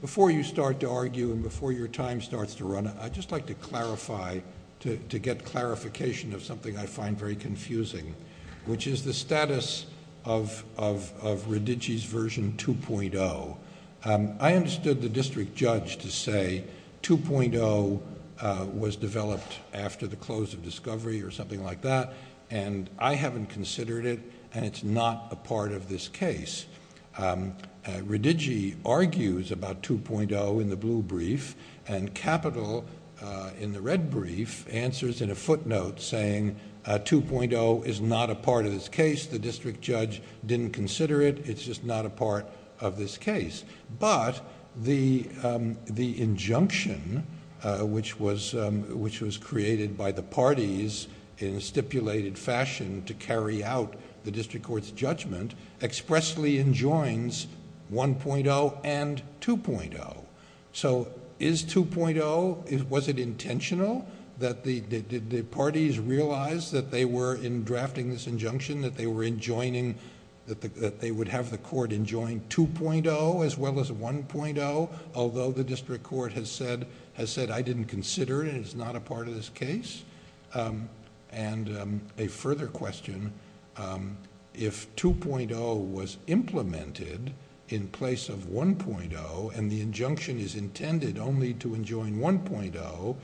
Before you start to argue and before your time starts to run out, I'd just like to clarify, to get clarification of something I find very confusing, which is the status of Redigi's version 2.0. I understood the district judge to say 2.0 was developed after the close of discovery or something like that, and I haven't considered it, and it's not a part of this case. Redigi argues about 2.0 in the blue brief, and Capitol, in the red brief, answers in a footnote saying 2.0 is not a part of this case. The district judge didn't consider it, it's just not a part of this case. But the injunction, which was created by the parties in a stipulated fashion to carry out the district court's judgment, expressly enjoins 1.0 and 2.0. So is 2.0, was it intentional that the parties realized that they were, in drafting this injunction, that they would have the court enjoin 2.0 as well as 1.0, although the district court has said, I didn't consider it, it's not a part of this case? And a further question, if 2.0 was implemented in place of 1.0 and the injunction is intended only to enjoin 1.0,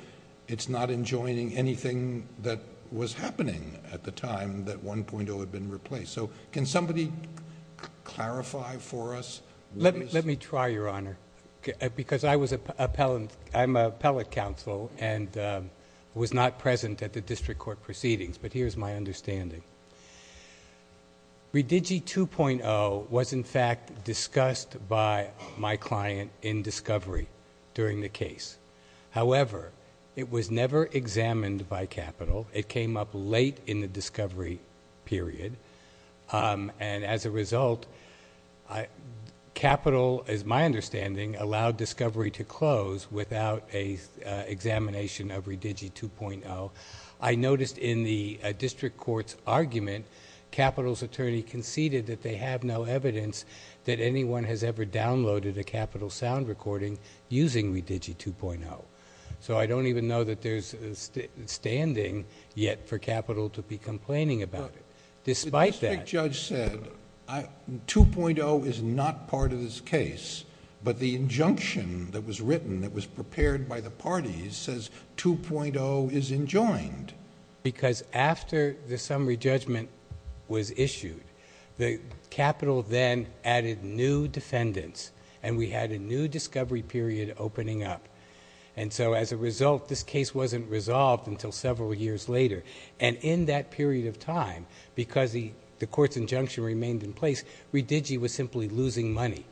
it's not enjoining anything that was happening at the time that 1.0 had been replaced. So can somebody clarify for us? Let me try, Your Honor, because I'm an appellate counsel and was not present at the district court proceedings, but here's my understanding. Redigi 2.0 was, in fact, discussed by my client in discovery during the case. However, it was never examined by capital. It came up late in the discovery period, and as a result, capital, as my understanding, allowed discovery to close without an examination of Redigi 2.0. I noticed in the district court's argument, capital's attorney conceded that they have no evidence that anyone has ever downloaded a capital sound recording using Redigi 2.0. So I don't even know that there's standing yet for capital to be complaining about it. Despite that. The district judge said, 2.0 is not part of this case, but the injunction that was written, that was prepared by the parties, says 2.0 is enjoined. Because after the summary judgment was issued, capital then added new defendants, and we had a new discovery period opening up. And so as a result, this case wasn't resolved until several years later. And in that period of time, because the court's injunction remained in place, Redigi was simply losing money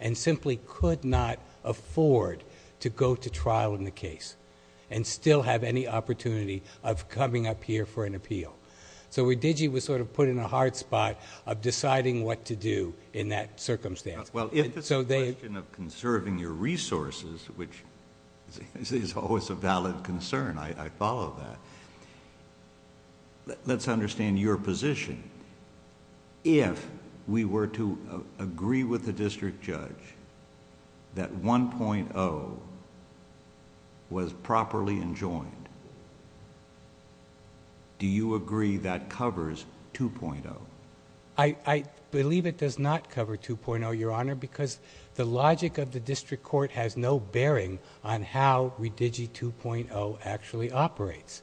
and simply could not afford to go to trial in the case and still have any opportunity of coming up here for an appeal. So Redigi was sort of put in a hard spot of deciding what to do in that circumstance. Well, if it's a question of conserving your resources, which is always a valid concern, I follow that. Let's understand your position. If we were to agree with the district judge that 1.0 was properly enjoined, do you agree that covers 2.0? I believe it does not cover 2.0, Your Honor, because the logic of the district court has no bearing on how Redigi 2.0 actually operates.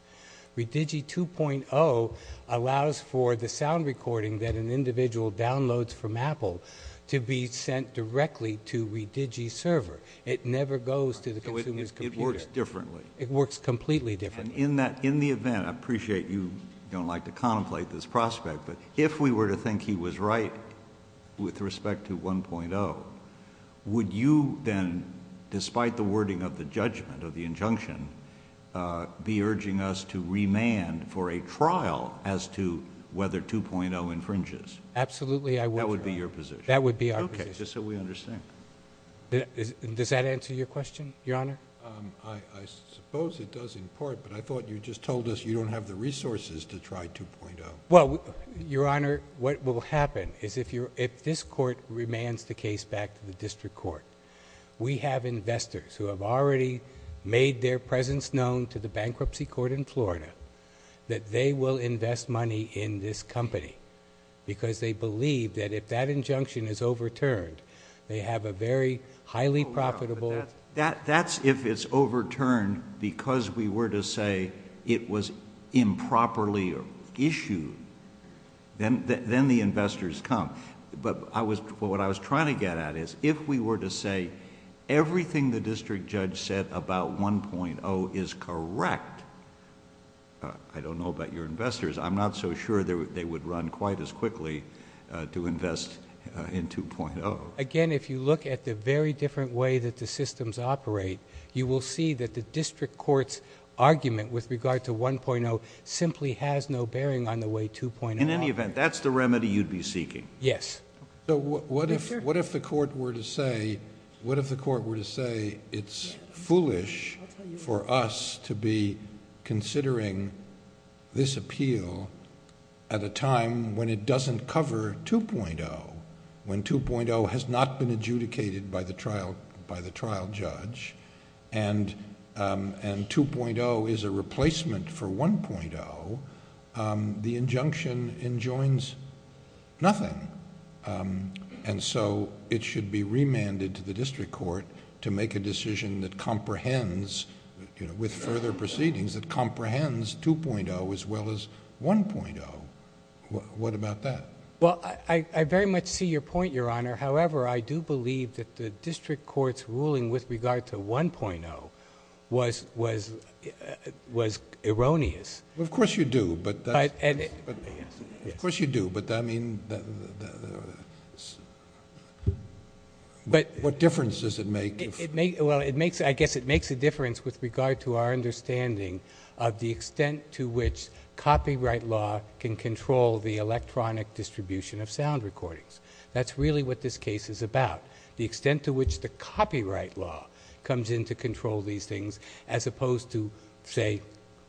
Redigi 2.0 allows for the sound recording that an individual downloads from Apple to be sent directly to Redigi's server. It never goes to the consumer's computer. So it works differently. It works completely differently. And in the event, I appreciate you don't like to contemplate this prospect, but if we were to think he was right with respect to 1.0, would you then, despite the wording of the judgment of the injunction, be urging us to remand for a trial as to whether 2.0 infringes? Absolutely I would. That would be your position? That would be our position. Okay, just so we understand. Does that answer your question, Your Honor? I suppose it does in part, but I thought you just told us you don't have the resources to try 2.0. Well, Your Honor, what will happen is if this court remands the case back to the district court, we have investors who have already made their presence known to the bankruptcy court in Florida that they will invest money in this company because they believe that if that injunction is overturned, they have a very highly profitable... Then the investors come. But what I was trying to get at is if we were to say everything the district judge said about 1.0 is correct, I don't know about your investors, I'm not so sure they would run quite as quickly to invest in 2.0. Again, if you look at the very different way that the systems operate, you will see that the district court's argument with regard to 1.0 simply has no bearing on the way 2.0... In any event, that's the remedy you'd be seeking. Yes. So what if the court were to say it's foolish for us to be considering this appeal at a time when it doesn't cover 2.0, when 2.0 has not been adjudicated by the trial judge, and 2.0 is a replacement for 1.0, the injunction enjoins nothing, and so it should be remanded to the district court to make a decision that comprehends, with further proceedings, that comprehends 2.0 as well as 1.0. What about that? Well, I very much see your point, Your Honor. However, I do believe that the district court's ruling with regard to 1.0 was erroneous. Of course you do, but I mean, what difference does it make? Well, I guess it makes a difference with regard to our understanding of the extent to which copyright law can control the electronic distribution of sound recordings. That's really what this case is about, the extent to which the copyright law comes in to control these things as opposed to, say,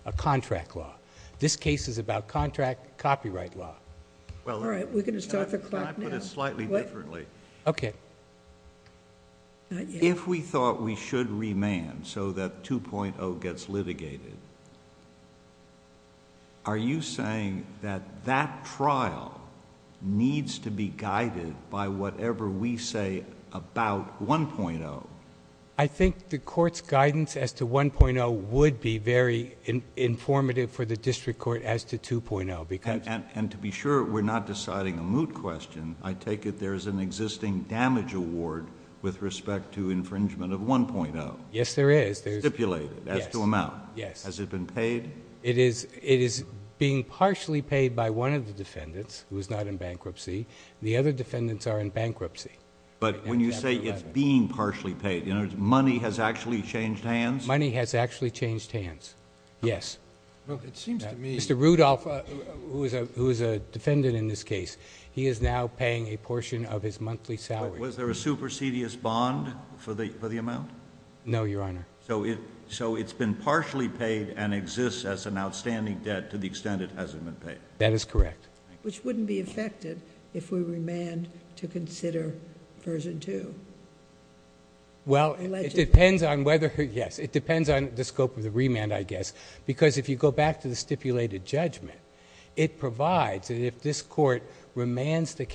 a contract law. This case is about contract copyright law. All right. We're going to start the clock. Can I put it slightly differently? Okay. If we thought we should remand so that 2.0 gets litigated, are you saying that that trial needs to be guided by whatever we say about 1.0? I think the court's guidance as to 1.0 would be very informative for the district court as to 2.0. And to be sure we're not deciding a moot question, I take it there's an existing damage award with respect to infringement of 1.0? Yes, there is. It's stipulated. That's the amount. Yes. Has it been paid? It is being partially paid by one of the defendants, who is not in bankruptcy. The other defendants are in bankruptcy. But when you say it's being partially paid, in other words, money has actually changed hands? Money has actually changed hands, yes. Mr. Rudolph, who is a defendant in this case, he is now paying a portion of his monthly salary. Was there a supersedious bond for the amount? No, Your Honor. So it's been partially paid and exists as an outstanding debt to the extent it hasn't been paid? That is correct. Which wouldn't be effective if we remand to consider version 2? Well, it depends on whether, yes, it depends on the scope of the remand, I guess. Because if you go back to the stipulated judgment, it provides that if this court remands the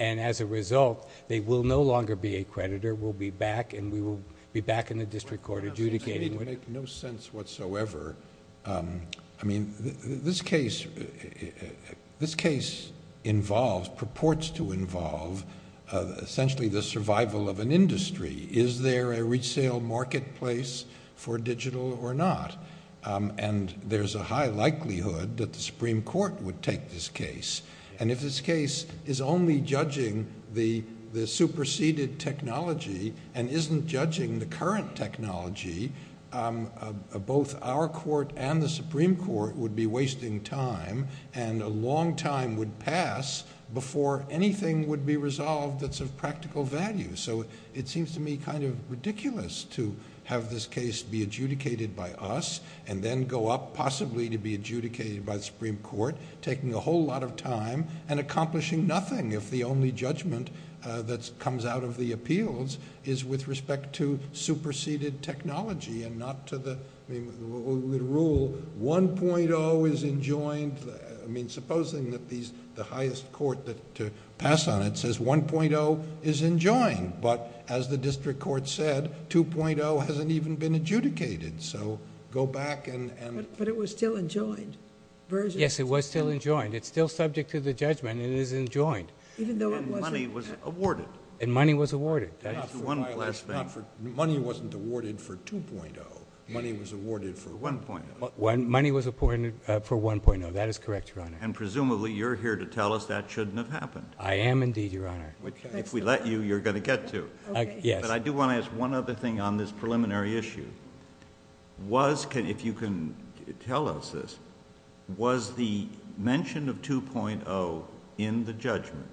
And as a result, they will no longer be a creditor. We'll be back, and we will be back in the district court adjudicating. It makes no sense whatsoever. I mean, this case involves, purports to involve, essentially the survival of an industry. Is there a resale marketplace for digital or not? And there's a high likelihood that the Supreme Court would take this case. And if this case is only judging the superseded technology and isn't judging the current technology, both our court and the Supreme Court would be wasting time, and a long time would pass before anything would be resolved that's of practical value. So it seems to me kind of ridiculous to have this case be adjudicated by us and then go up possibly to be adjudicated by the Supreme Court, taking a whole lot of time and accomplishing nothing if the only judgment that comes out of the appeals is with respect to superseded technology and not to the rule 1.0 is enjoined. I mean, supposing that the highest court to pass on it says 1.0 is enjoined. But as the district court said, 2.0 hasn't even been adjudicated. So go back and... But it was still enjoined. Yes, it was still enjoined. It's still subject to the judgment and it is enjoined. Even though it wasn't awarded. And money was awarded. Money wasn't awarded for 2.0. Money was awarded for 1.0. Money was awarded for 1.0. That is correct, Your Honor. And presumably you're here to tell us that shouldn't have happened. I am indeed, Your Honor. If we let you, you're going to get to it. But I do want to ask one other thing on this preliminary issue. Was, if you can tell us this, was the mention of 2.0 in the judgment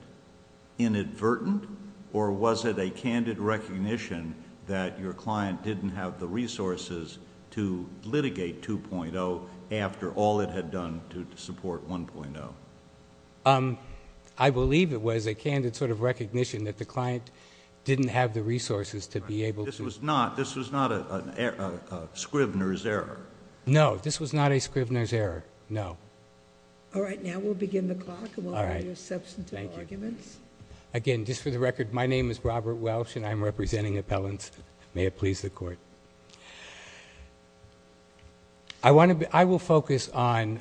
inadvertent or was it a candid recognition that your client didn't have the resources to litigate 2.0 after all it had done to support 1.0? I believe it was a candid sort of recognition that the client didn't have the resources to be able to... This was not a Scribner's error. No, this was not a Scribner's error. No. All right, now we'll begin the clock. All right. Thank you. Again, just for the record, my name is Robert Welsh and I'm representing appellants. May it please the Court. I want to... I will focus on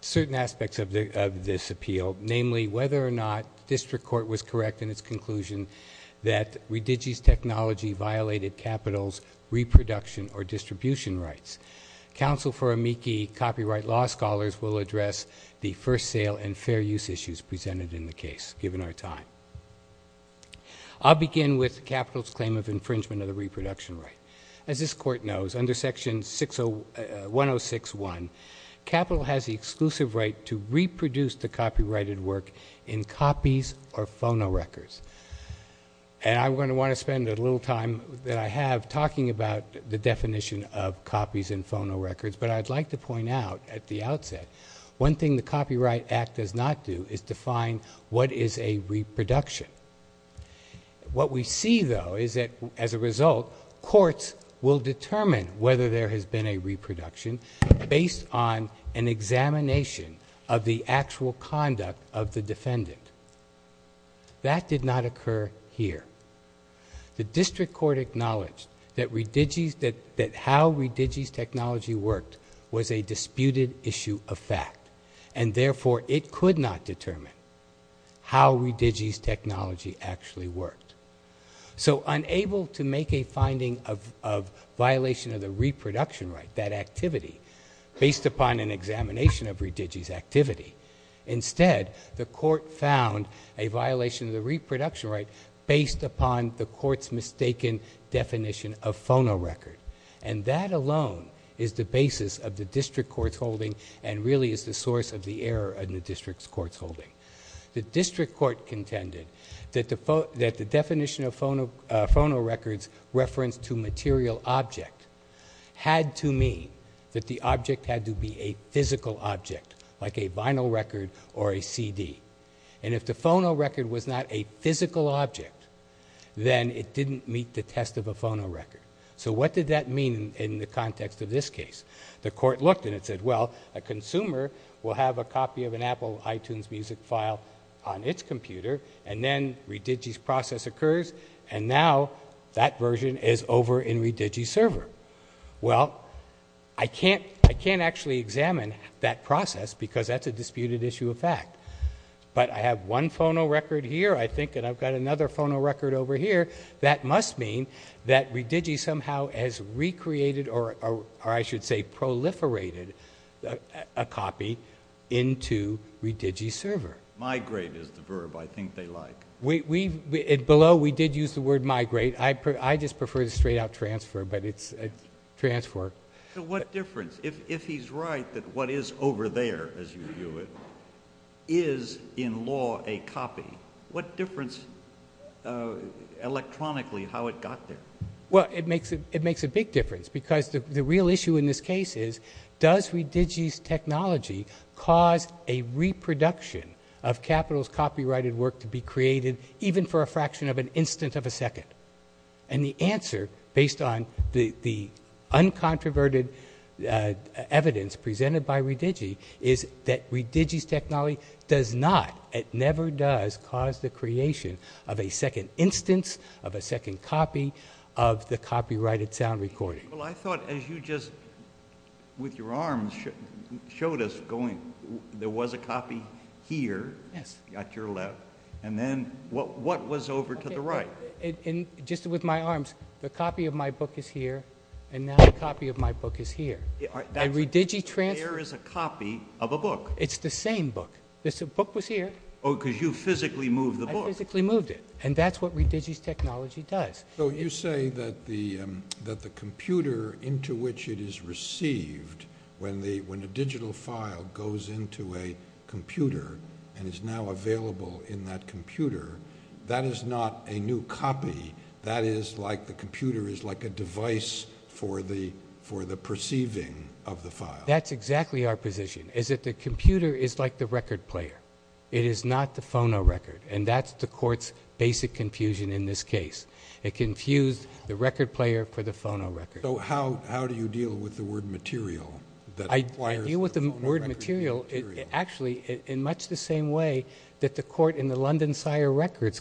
certain aspects of this appeal, namely whether or not district court was correct in its conclusion that Redigi's technology violated capital's reproduction or distribution rights. Counsel for amici copyright law scholars will address the first sale and fair use issues presented in the case, given our time. I'll begin with capital's claim of infringement of the reproduction right. As this Court knows, under Section 106.1, capital has the exclusive right to reproduce the copyrighted work in copies or phonorecords. And I'm going to want to spend a little time that I have talking about the definition of copies and phonorecords, but I'd like to point out at the outset one thing the Copyright Act does not do is define what is a reproduction. What we see, though, is that, as a result, courts will determine whether there has been a reproduction based on an examination of the actual conduct of the defendant. That did not occur here. The district court acknowledged that Redigi's... that how Redigi's technology worked was a disputed issue of fact and, therefore, it could not determine how Redigi's technology actually worked. So, unable to make a finding of violation of the reproduction right, that activity, based upon an examination of Redigi's activity, instead, the court found a violation of the reproduction right based upon the court's mistaken definition of phonorecord. And that alone is the basis of the district court's holding and really is the source of the error in the district court's holding. The district court contended that the definition of phonorecords referenced to material objects had to mean that the object had to be a physical object, like a vinyl record or a CD. And if the phonorecord was not a physical object, then it didn't meet the test of a phonorecord. So what did that mean in the context of this case? The court looked and it said, well, a consumer will have a copy of an Apple iTunes music file on its computer and then Redigi's process occurs and now that version is over in Redigi's server. Well, I can't actually examine that process because that's a disputed issue of fact. But I have one phonorecord here. I think that I've got another phonorecord over here. That must mean that Redigi somehow has recreated or I should say proliferated a copy into Redigi's server. Migrate is the verb I think they like. Below we did use the word migrate. I just prefer the straight out transfer, but it's a transfer. So what difference, if he's right, that what is over there, as you view it, is in law a copy, what difference electronically how it got there? Well, it makes a big difference because the real issue in this case is does Redigi's technology cause a reproduction of Capital's copyrighted work to be created even for a fraction of an instant of a second? And the answer, based on the uncontroverted evidence presented by Redigi, is that Redigi's technology does not, it never does cause the creation of a second instance, of a second copy of the copyrighted sound recording. Well, I thought as you just, with your arms, showed us going, there was a copy here at your left, and then what was over to the right? Just with my arms, the copy of my book is here, and now the copy of my book is here. There is a copy of a book. It's the same book. The book was here. Oh, because you physically moved the book. I physically moved it, and that's what Redigi's technology does. So you say that the computer into which it is received, when the digital file goes into a computer and is now available in that computer, that is not a new copy. That is like the computer is like a device for the perceiving of the file. That's exactly our position, is that the computer is like the record player. It is not the phono record, and that's the court's basic confusion in this case. It confused the record player for the phono record. So how do you deal with the word material? I deal with the word material actually in much the same way that the court in the London Sire Records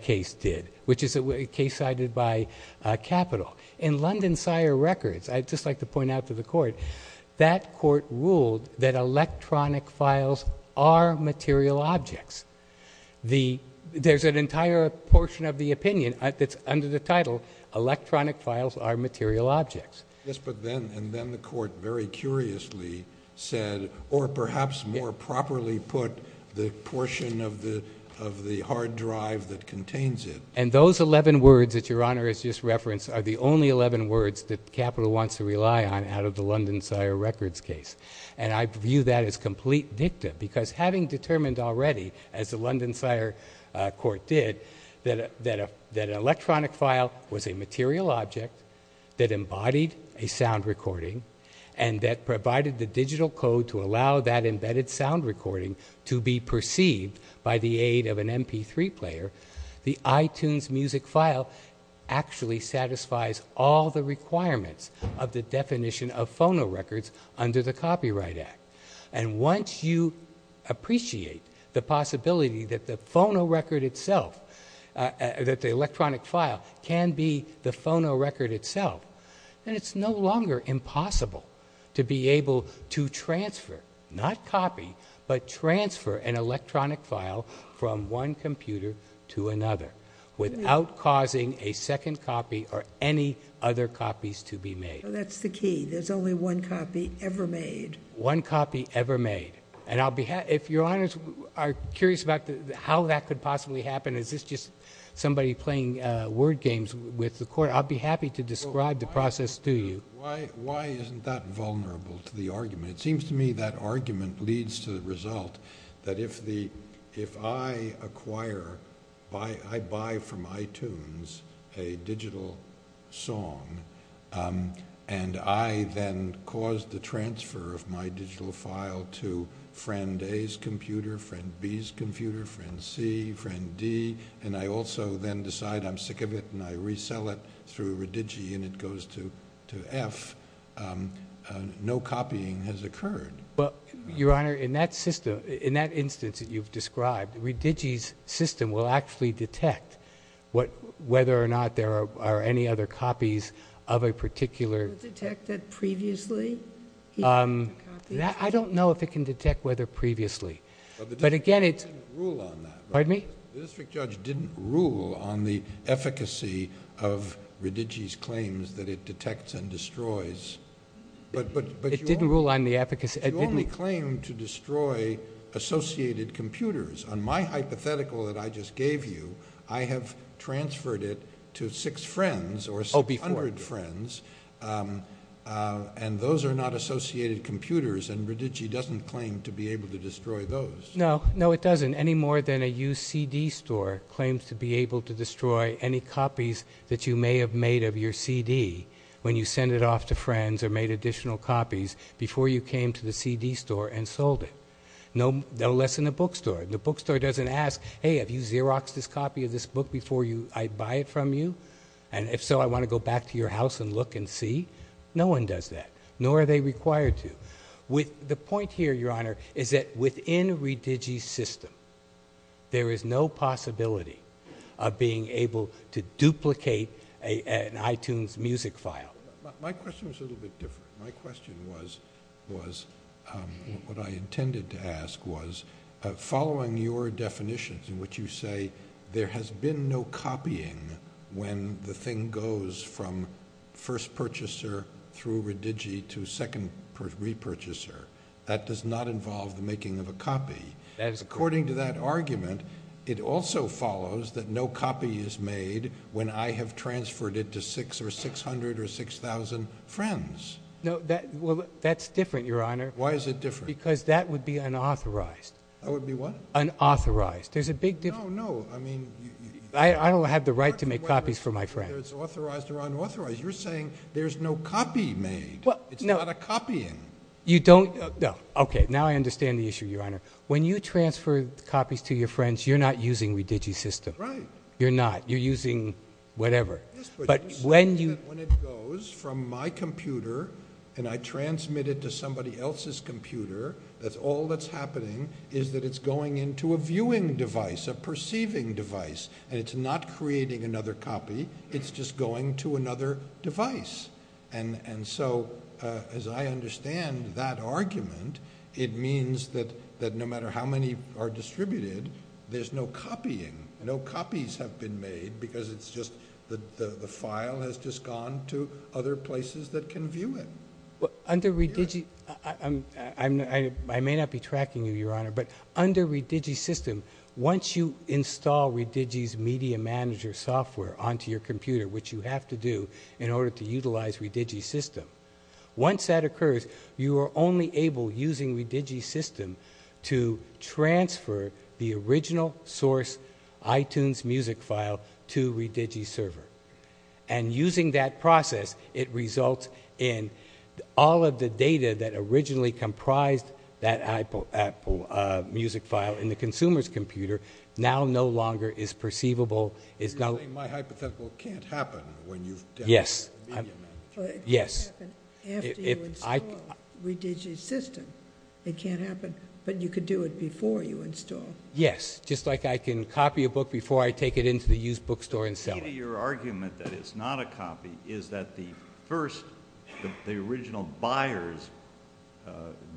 case did, which is a case cited by Capital. In London Sire Records, I'd just like to point out to the court, that court ruled that electronic files are material objects. There's an entire portion of the opinion that's under the title, electronic files are material objects. Yes, but then the court very curiously said, or perhaps more properly put, the portion of the hard drive that contains it. And those 11 words that Your Honor has just referenced are the only 11 words that Capital wants to rely on out of the London Sire Records case. And I view that as complete dicta, because having determined already, as the London Sire Court did, that an electronic file was a material object that embodied a sound recording and that provided the digital code to allow that embedded sound recording to be perceived by the aid of an MP3 player, the iTunes music file actually satisfies all the requirements of the definition of phono records under the Copyright Act. And once you appreciate the possibility that the phonorecord itself, that the electronic file can be the phonorecord itself, then it's no longer impossible to be able to transfer, not copy, but transfer an electronic file from one computer to another without causing a second copy or any other copies to be made. That's the key. There's only one copy ever made. One copy ever made. And if your lawyers are curious about how that could possibly happen, is this just somebody playing word games with the court? I'd be happy to describe the process to you. Why isn't that vulnerable to the argument? It seems to me that argument leads to the result that if I acquire, I buy from iTunes a digital song, and I then cause the transfer of my digital file to friend A's computer, friend B's computer, friend C, friend D, and I also then decide I'm sick of it, and I resell it through Redigi, and it goes to F, no copying has occurred. But, Your Honor, in that system, in that instance that you've described, Redigi's system will actually detect whether or not there are any other copies of a particular... Was it detected previously? I don't know if it can detect whether previously. But again, it's... Pardon me? The district judge didn't rule on the efficacy of Redigi's claims that it detects and destroys. It didn't rule on the efficacy? It didn't claim to destroy associated computers. On my hypothetical that I just gave you, I have transferred it to six friends or some hundred friends, and those are not associated computers, and Redigi doesn't claim to be able to destroy those. No, no, it doesn't. Any more than a used CD store claims to be able to destroy any copies that you may have made of your CD when you send it off to friends or made additional copies before you came to the CD store and sold it. No less than a bookstore. The bookstore doesn't ask, hey, have you Xeroxed this copy of this book before I buy it from you? And if so, I want to go back to your house and look and see? No one does that, nor are they required to. The point here, Your Honor, is that within Redigi's system, there is no possibility of being able to duplicate an iTunes music file. My question was a little bit different. My question was, what I intended to ask was, following your definitions in which you say there has been no copying when the thing goes from first purchaser through Redigi to second repurchaser. That does not involve the making of a copy. As according to that argument, it also follows that no copy is made when I have transferred it to 600 or 6,000 friends. No, that's different, Your Honor. Why is it different? Because that would be unauthorized. Unauthorized. There's a big difference. I don't have the right to make copies for my friends. You're saying there's no copy made. It's not a copying. Okay, now I understand the issue, Your Honor. When you transfer copies to your friends, you're not using Redigi's system. You're using whatever. But when it goes from my computer and I transmit it to somebody else's computer, all that's happening is that it's going into a viewing device, a perceiving device. It's not creating another copy. It's just going to another device. As I understand that argument, it means that no matter how many are distributed, there's no copying. No copies have been made because it's just the file has just gone to other places that can view it. Under Redigi, I may not be tracking you, Your Honor, but under Redigi's system, once you install Redigi's media manager software onto your computer, which you have to do in order to utilize Redigi's system, once that occurs, you are only able, using Redigi's system, to transfer the original source iTunes music file to Redigi's server. Using that process, it results in all of the data that originally comprised that music file in the consumer's computer now no longer is perceivable. You're saying my hypothetical can't happen when you've downloaded the media manager? Yes. After you install Redigi's system, it can't happen, but you can do it before you install it. Yes, just like I can copy a book before I take it into the used bookstore and sell it. Your argument that it's not a copy is that the original buyer's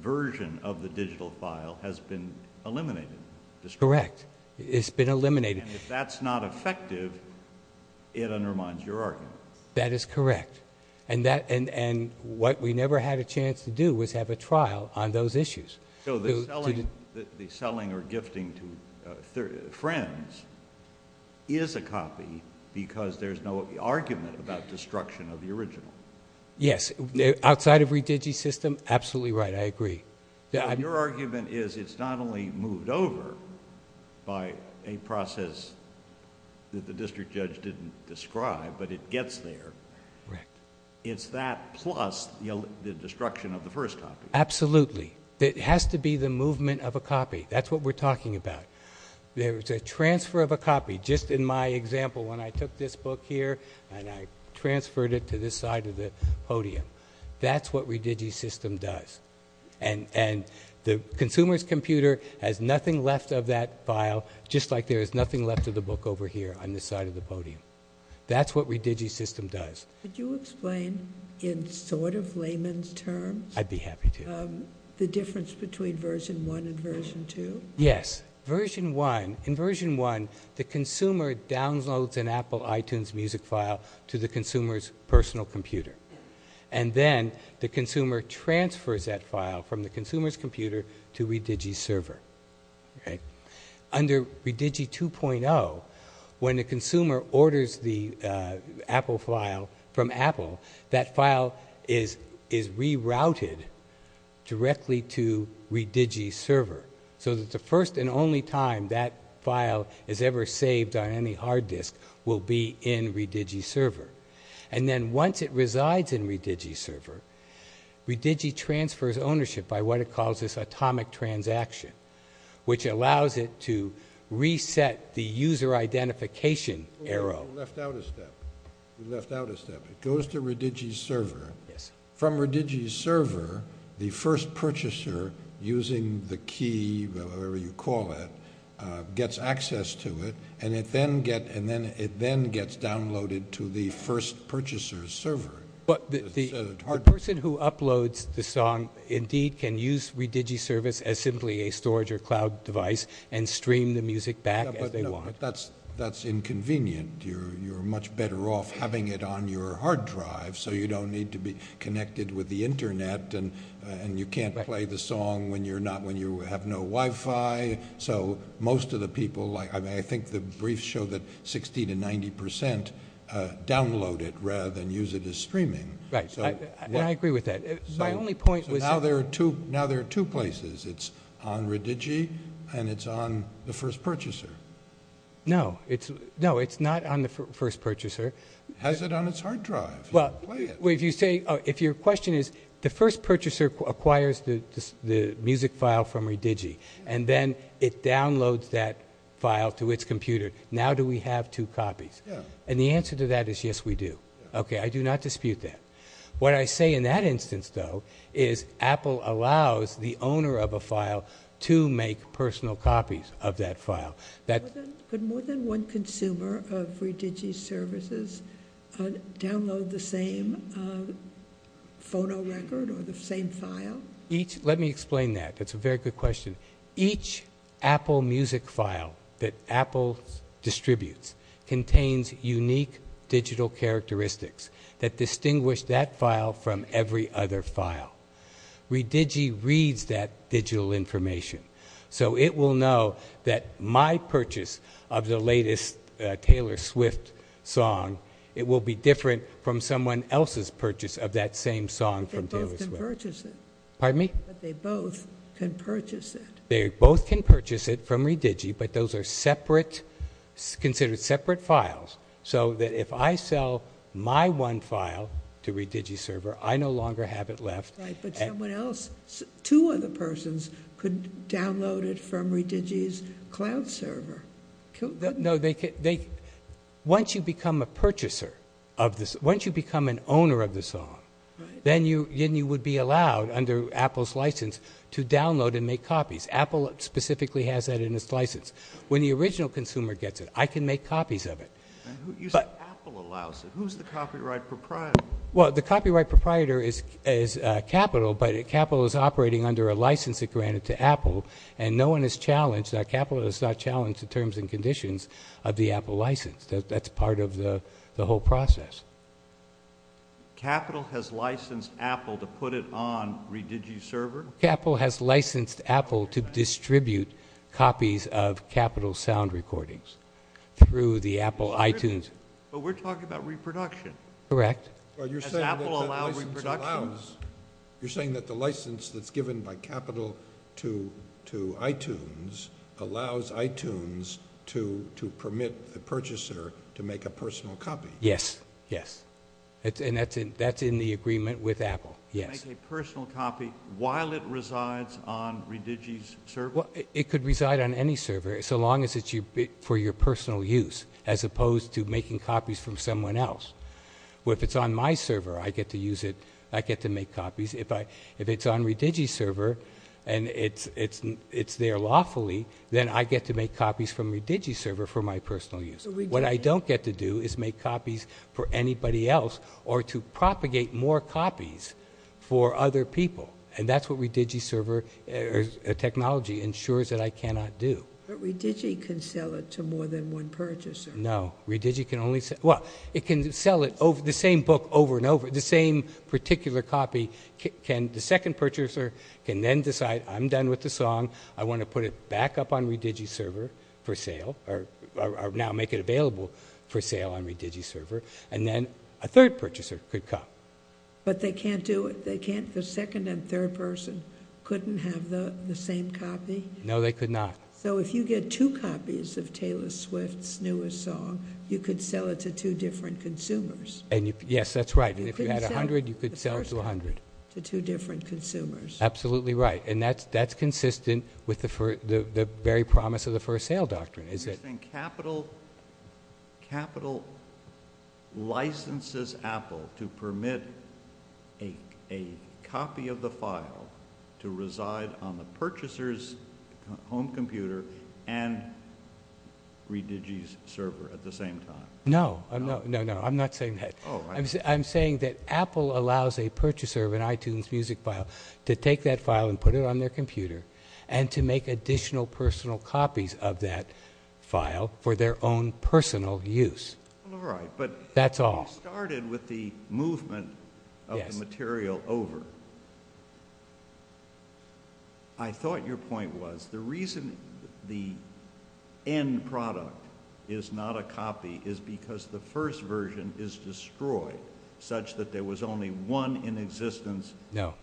version of the digital file has been eliminated. Correct. It's been eliminated. If that's not effective, it undermines your argument. That is correct. What we never had a chance to do was have a trial on those issues. The selling or gifting to friends is a copy because there's no argument about destruction of the original. Yes, outside of Redigi's system, absolutely right. I agree. Your argument is it's not only moved over by a process that the district judge didn't describe, but it gets there. It's that plus the destruction of the first copy. Absolutely. It has to be the movement of a copy. That's what we're talking about. There's a transfer of a copy. Just in my example, when I took this book here and I transferred it to this side of the podium, that's what Redigi's system does. The consumer's computer has nothing left of that file, just like there's nothing left of the book over here on this side of the podium. That's what Redigi's system does. Could you explain in sort of layman's terms the difference between version 1 and version 2? Yes. In version 1, the consumer downloads an Apple iTunes music file to the consumer's personal computer. And then, the consumer transfers that file from the consumer's computer to Redigi's server. Under Redigi 2.0, when the consumer orders the Apple file from Apple, that file is rerouted directly to Redigi's server. And the only time that file is ever saved on any hard disk will be in Redigi's server. And then, once it resides in Redigi's server, Redigi transfers ownership by what it calls this atomic transaction, which allows it to reset the user identification error. You left out a step. You left out a step. It goes to Redigi's server. From Redigi's server, the first purchaser, using the key, whatever you call it, gets access to it, and it then gets downloaded to the first purchaser's server. The person who uploads the song indeed can use Redigi service as simply a storage or cloud device and stream the music back as they want. That's inconvenient. You're much better off having it on your hard drive so you don't need to be connected with the internet and you can't play the song when you have no Wi-Fi. So most of the people, I think the briefs show that 60 to 90 percent download it rather than use it as streaming. I agree with that. Now there are two places. It's on Redigi and it's on the first purchaser. No. It's not on the first purchaser. It has it on its hard drive. Your question is the first purchaser acquires the music file from Redigi and then it downloads that file to its computer. Now do we have two copies? The answer to that is yes we do. I do not dispute that. What I say in that instance though is Apple allows the owner of a file to make personal copies of that file. More than one consumer of Redigi services download the same photo record or the same file? Let me explain that. That's a very good question. Each Apple music file that Apple distributes contains unique digital characteristics that distinguish that file from every other file. Redigi reads that digital information so it will know that my purchase of the latest Taylor Swift song it will be different from someone else's purchase of that same song from Taylor Swift. They both can purchase it. Pardon me? They both can purchase it. They both can purchase it from Redigi but those are separate considered separate files so that if I sell my one file to Redigi server I no longer have it left. But someone else, two other persons could download it from Redigi's cloud server. Once you become a purchaser, once you become an owner of the song then you would be allowed under Apple's license to download and make copies. Apple specifically has that in its license. When the original consumer gets it I can make copies of it. Who's the copyright proprietor? The copyright proprietor is Capital but Capital is operating under a license granted to Apple and no one is challenged, Capital is not challenged in terms and conditions of the Apple license. That's part of the whole process. Capital has licensed Apple to put it on Redigi's server? Capital has licensed Apple to distribute copies of Capital's sound recordings through the Apple iTunes. But we're talking about reproduction. Correct. You're saying that the license that's given by Capital to iTunes allows iTunes to permit the purchaser to make a personal copy? Yes. That's in the agreement with Apple. Make a personal copy while it resides on Redigi's server? It could reside on any server so long as it's for your personal use as opposed to making copies from someone else. If it's on my server I get to use it I get to make copies. If it's on Redigi's server and it's there lawfully, then I get to make copies from Redigi's server for my personal use. What I don't get to do is make copies for anybody else or to propagate more copies for other people. And that's what Redigi's server technology ensures that I cannot do. But Redigi can sell it to more than one purchaser? No. Redigi can only sell, well, it can sell the same book over and over, the same particular copy the second purchaser can then decide, I'm done with the song I want to put it back up on Redigi's server for sale, or now make it available for sale on Redigi's server, and then a third purchaser could come. But they can't do it, they can't, the second and third person couldn't have the same copy? No, they could not. So if you get two copies of Taylor Swift's newest song you could sell it to two different consumers. Yes, that's right. If you had 100, you could sell it to 100. To two different consumers. Absolutely right. And that's consistent with the very promise of the First Sale Doctrine. Capital licenses Apple to permit a copy of the file to reside on the purchaser's home computer and Redigi's server at the I'm not saying that. I'm saying that Apple allows a purchaser of an iTunes music file to take that file and put it on their computer and to make additional personal copies of that file for their own personal use. That's all. You started with the movement of the material over. I thought your point was the reason the end product is not a copy is because the first version is destroyed such that there was only one in existence No.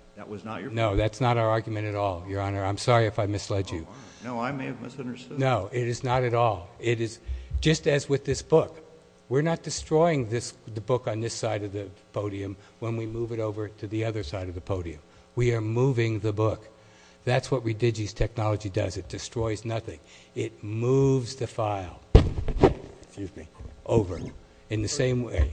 No, that's not our argument at all, Your Honor. I'm sorry if I misled you. No, I may have misunderstood. No, it is not at all. It is just as with this book. We're not destroying the book on this side of the podium when we move it over to the other side of the podium. We are moving the book. That's what Redigi's technology does. It destroys nothing. It moves the file over in the same way.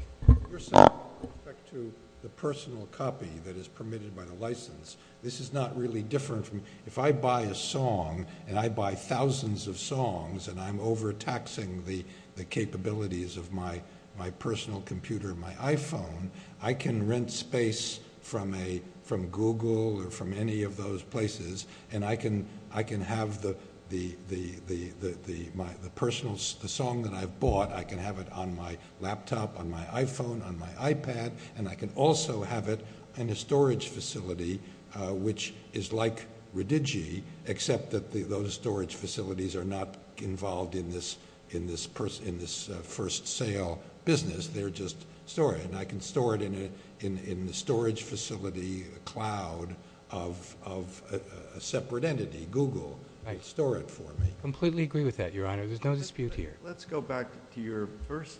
The personal copy that is permitted by the license. This is not really different. If I buy a song and I buy thousands of songs and I'm overtaxing the capabilities of my personal computer, my iPhone, I can rent space from Google or from any of those places and I can have the personal song that I bought I can have it on my laptop on my iPhone, on my iPad and I can also have it in a storage facility which is like Redigi except that those storage facilities are not involved in this first sale business. They're just stored. I can store it in the storage facility cloud of a separate entity, Google and store it for me. I completely agree with that, your honor. There's no dispute here. Let's go back to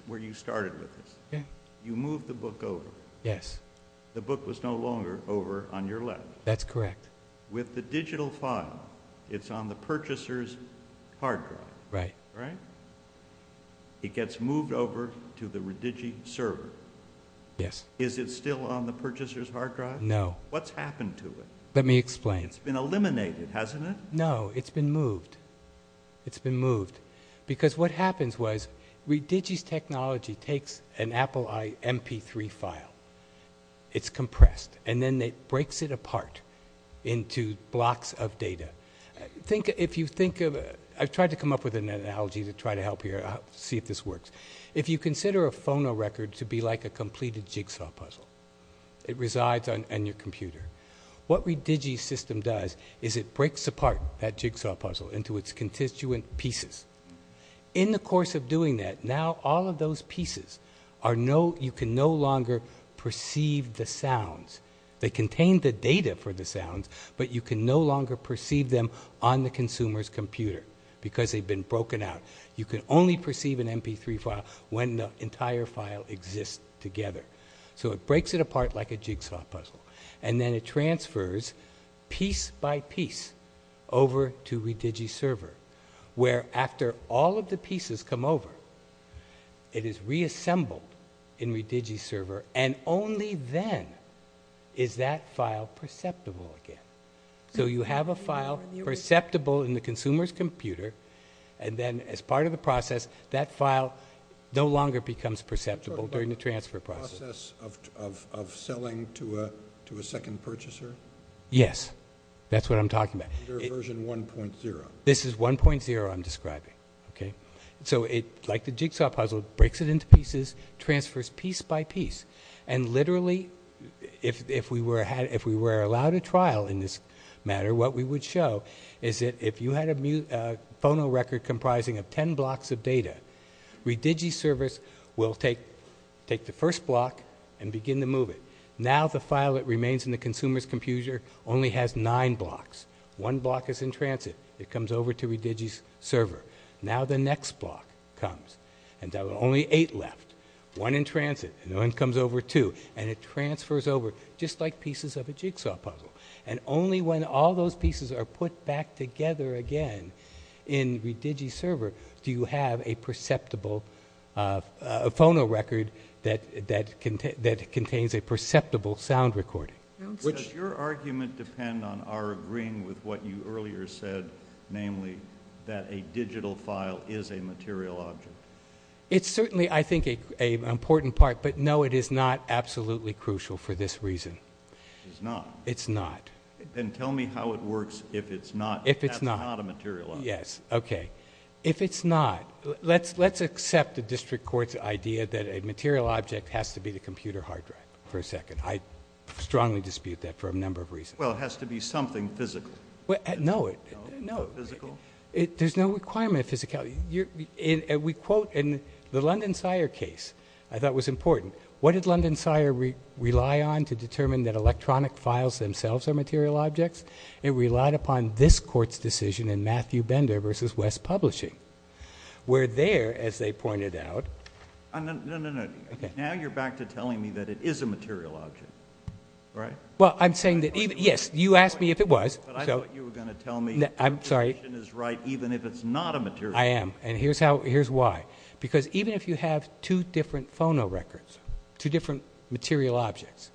where you started with this. You moved the book over. Yes. The book was no longer over on your left. That's correct. With the digital file it's on the purchaser's hard drive. Right. It gets moved over to the Redigi server. Yes. Is it still on the purchaser's hard drive? No. What's happened to it? Let me explain. It's been eliminated, hasn't it? No. It's been moved. It's been moved because what happens was Redigi's technology takes an Apple MP3 file. It's compressed and then it breaks it apart into blocks of data. Think if you think of I've tried to come up with an analogy to try to help here, see if this works. If you consider a phono record to be like a completed jigsaw puzzle it resides on your computer. What Redigi's system does is it breaks apart that jigsaw puzzle into its constituent pieces. In the course of doing that, now all of those pieces you can no longer perceive the sounds. They contain the data for the sounds, but you can no longer perceive them on the consumer's computer because they've been broken out. You can only perceive an MP3 file when the entire file exists together. It breaks it apart like a jigsaw puzzle and then it transfers piece by piece over to Redigi's server where after all of the pieces come over, it is reassembled in Redigi's server and only then is that file perceptible again. You have a file perceptible in the consumer's computer and then as part of the process, that file no longer becomes perceptible during the transfer process. ...of selling to a second purchaser? Yes. That's what I'm talking about. Version 1.0. This is 1.0 I'm describing. Like the jigsaw puzzle, it breaks it into pieces, transfers piece by piece, and literally if we were allowed a trial in this matter, what we would show is that if you had a phonorecord comprising of ten blocks of data, Redigi's servers will take the first block and begin to move it. Now the file that remains in the consumer's computer only has nine blocks. One block is in transit. It comes over to Redigi's server. Now the next block comes and there are only eight left. One in transit and one comes over too and it transfers over just like pieces of a jigsaw puzzle and only when all those pieces are put back together again in Redigi's server you have a perceptible phonorecord that contains a perceptible sound recording. Does your argument depend on our agreeing with what you earlier said namely that a digital file is a material object? It's certainly I think an important part but no it is not absolutely crucial for this reason. It's not? It's not. Then tell me how it works if it's not a material object. Yes, okay. If it's not let's accept the district court's idea that a material object has to be a computer hard drive for a second. I strongly dispute that for a number of reasons. Well it has to be something physical. No there's no requirement of physicality. We quote in the London Sire case I thought was important. What did London Sire rely on to determine that electronic files themselves are material objects? It relied upon this court's decision in Matthew Bender v. West Publishing where there as they pointed out No, no, no now you're back to telling me that it is a material object, right? Well I'm saying that yes, you asked me if it was but I thought you were going to tell me that your position is right even if it's not a material object. I am and here's why because even if you have two different phonorecords, two different material objects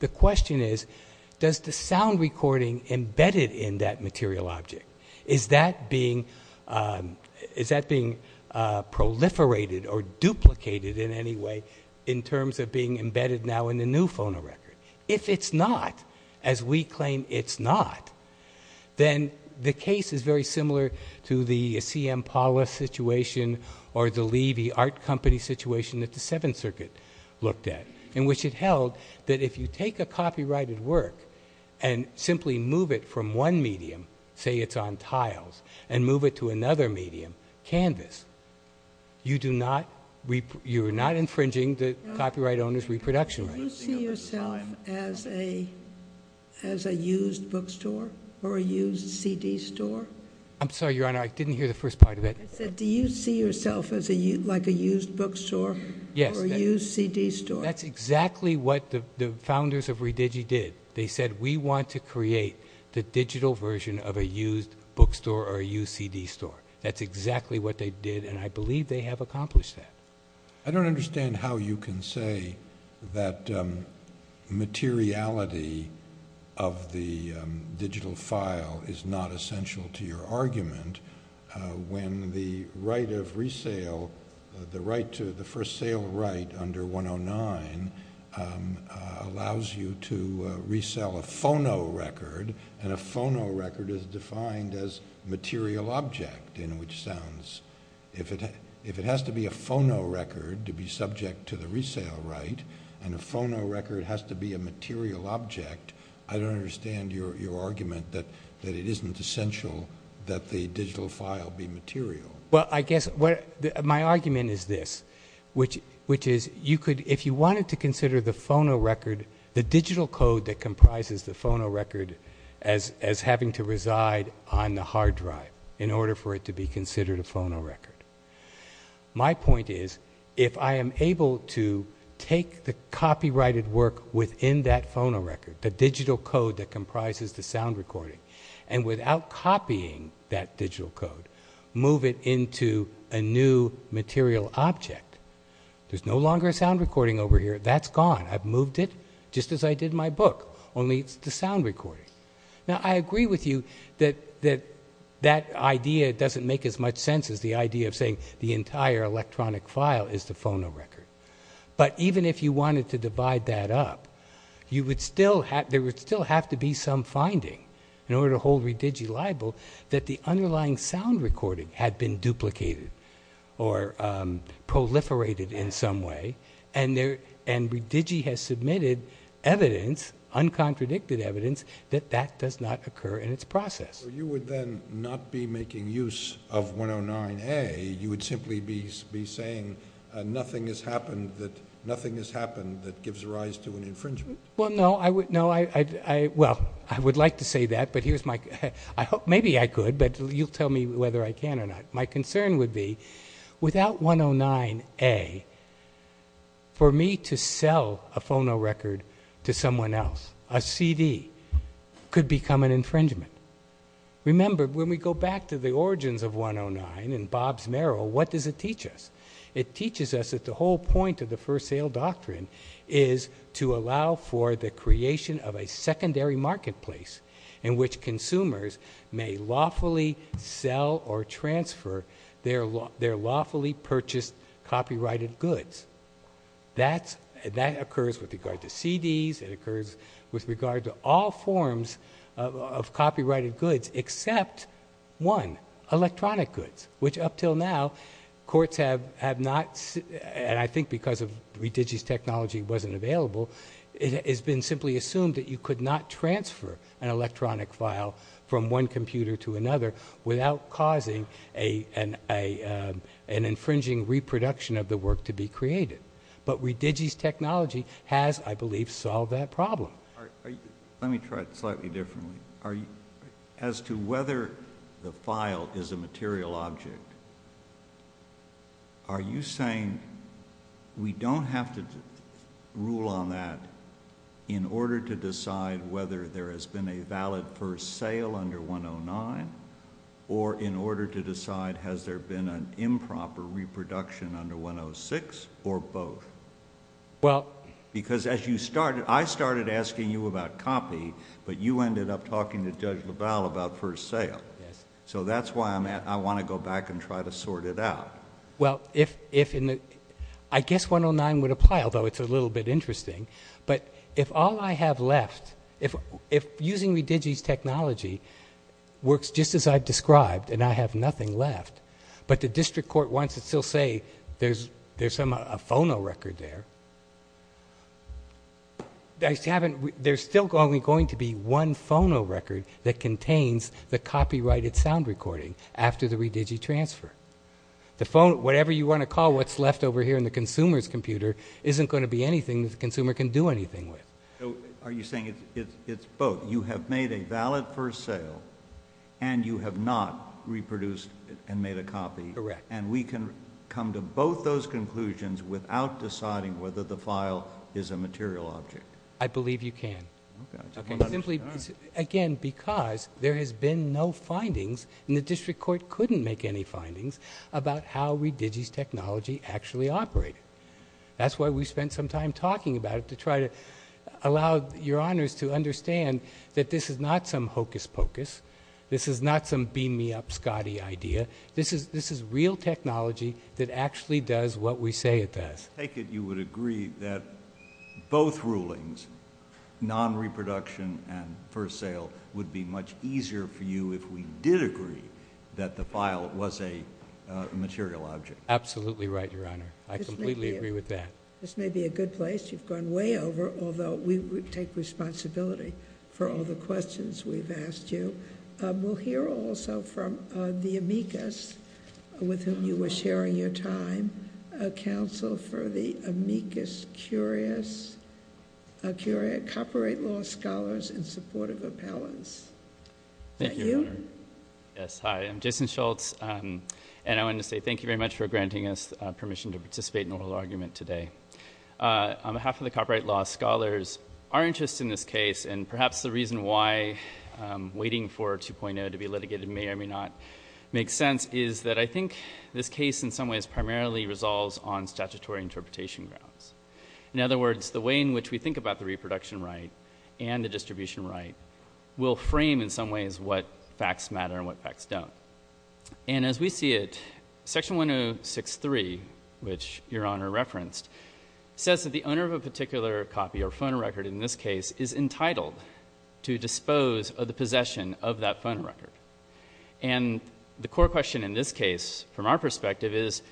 the question is does the sound recording embedded in that material object is that being proliferated or duplicated in any way in terms of being embedded now in the new phonorecord? If it's not, as we claim it's not, then the case is very similar to the C.M. Pollis situation or the Lee, the art company situation that the Seventh Circuit looked at, in which it held that if you take a copyrighted work and simply move it from one medium, say it's on tiles, and move it to another medium, canvas you do not, you are not infringing the copyright owner's reproduction rights. Do you see yourself as a used bookstore or a used CD store? I'm sorry Your Honor, I didn't hear the first part of that. Do you see yourself as a used bookstore or a used CD store? That's exactly what the founders of Redigi did. They said we want to create the digital version of a used bookstore or a used CD store. That's exactly what they did and I believe they have accomplished that. I don't understand how you can say that materiality of the digital file is not essential to your argument when the right of resale, the first sale right under 109 allows you to resale a phonorecord and a phonorecord is defined as material object in which sounds. If it has to be a phonorecord to be subject to the resale right and a phonorecord has to be a material object, I don't understand your argument that it isn't essential that the digital file be material. My argument is this which is if you wanted to consider the phonorecord the digital code that comprises the phonorecord as having to reside on the hard drive in order for it to be considered a phonorecord. My point is if I am able to take the copyrighted work within that phonorecord the digital code that comprises the sound recording and without copying that digital code move it into a new material object there's no longer a sound recording over here. That's gone. I've moved it just as I did my book only it's the sound recording. Now I agree with you that that idea doesn't make as much sense as the idea of saying the entire electronic file is the phonorecord but even if you wanted to divide that up you would still have to be some level that the underlying sound recording had been duplicated or proliferated in some way and Redigi has submitted evidence, uncontradicted evidence, that that does not occur in its process. So you would then not be making use of 109A, you would simply be saying nothing has happened that gives rise to an infringement? Well no, I would like to say that but here's my maybe I could but you tell me whether I can or not. My concern would be without 109A for me to sell a phonorecord to someone else, a CD could become an infringement remember when we go back to the origins of 109 and Bob's Merrill, what does it teach us? It teaches us that the whole point of the first sale doctrine is to allow for the creation of a secondary marketplace in which consumers may lawfully sell or transfer their lawfully purchased copyrighted goods. That occurs with regard to CDs it occurs with regard to all forms of copyrighted goods except one, electronic goods, which up till now courts have not and I think because of Redigi's technology wasn't available it has been simply assumed that you could not transfer an electronic file from one computer to another without causing an infringing reproduction of the work to be created. But Redigi's technology has, I believe, solved that problem. Let me try it slightly differently as to whether the file is a material object are you saying we don't have to rule on that in order to decide whether there has been a valid first sale under 109 or in order to decide has there been an improper reproduction under 106 or both? Because as you started, I started asking you about copy but you ended up talking to Judge LaValle about first sale. So that's why I want to go back and try to sort it out. Well, if I guess 109 would apply, although it's a little bit interesting, but if all I have left if using Redigi's technology works just as I've described and I have nothing left but the district court wants to still say there's a phono record there there's still only going to be one phono record that contains the copyrighted sound recording after the whatever you want to call what's left over here in the consumer's computer isn't going to be anything the consumer can do anything with Are you saying it's both? You have made a valid first sale and you have not reproduced and made a copy and we can come to both those conclusions without deciding whether the file is a material object? I believe you can Simply again, because there has been no findings and the district court couldn't make any findings about how Redigi's technology actually operated That's why we spent some time talking about it to try to allow your honors to understand that this is not some hocus-pocus this is not some beam-me-up Scotty idea. This is real technology that actually does what we say it does You would agree that both rulings non-reproduction and first sale would be much easier for you if we did agree that the file was a material object Absolutely right, your honor. I completely agree with that. This may be a good place you've gone way over, although we take responsibility for all the questions we've asked you We'll hear also from the amicus with whom you were sharing your time a counsel for the amicus curia curia copyright law scholars and supportive appellants Thank you Hi, I'm Jason Schultz and I want to say thank you very much for granting us permission to participate in the oral argument today On behalf of the copyright law, scholars are interested in this case and perhaps the reason why waiting for 2.0 to be litigated may or may not make sense is that I think this case in some ways primarily resolves on statutory interpretation In other words, the way in which we think about the reproduction right and the distribution right will frame in some ways what facts matter and what facts don't and as we see it, section 1063, which your honor referenced, says that the owner of a particular copy or phone record in this case is entitled to dispose of the possession of that phone record and the core question in this case from our perspective is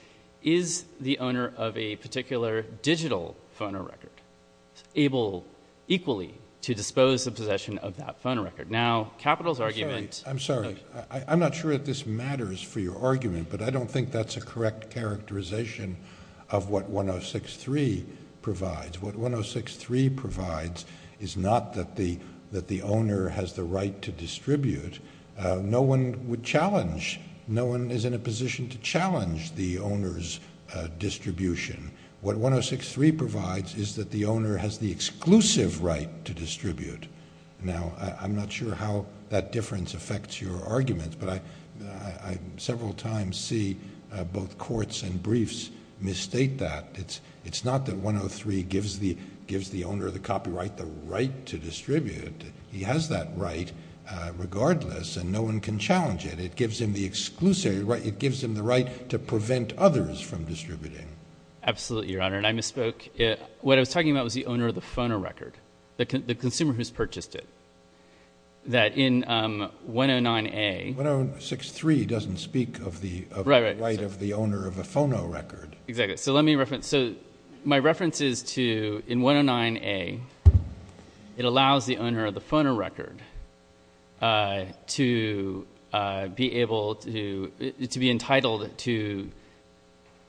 is the owner of a particular digital phone record able equally to dispose of the possession of that phone record? Now, Capital's argument I'm sorry, I'm not sure that this matters for your argument, but I don't think that's a correct characterization of what 1063 provides. What 1063 provides is not that the owner has the right to distribute. No one would challenge, no one is in a position to challenge the owner's distribution. What 1063 provides is that the owner has the exclusive right to distribute. Now, I'm not sure how that difference affects your argument, but I several times see both courts and briefs misstate that. It's not that 103 gives the owner of the copyright the right to distribute. He has that right regardless and no one can challenge it. It gives him the exclusive right, it gives him the right to prevent others from distributing. Absolutely, Your Honor, and I misspoke. What I was talking about was the owner of the phonorecord. The consumer who's purchased it. That in 109A... 1063 doesn't speak of the right of the owner of a phonorecord. Exactly. So let me reference, so my reference is to, in 109A it allows the owner of the phonorecord to be able to to be entitled to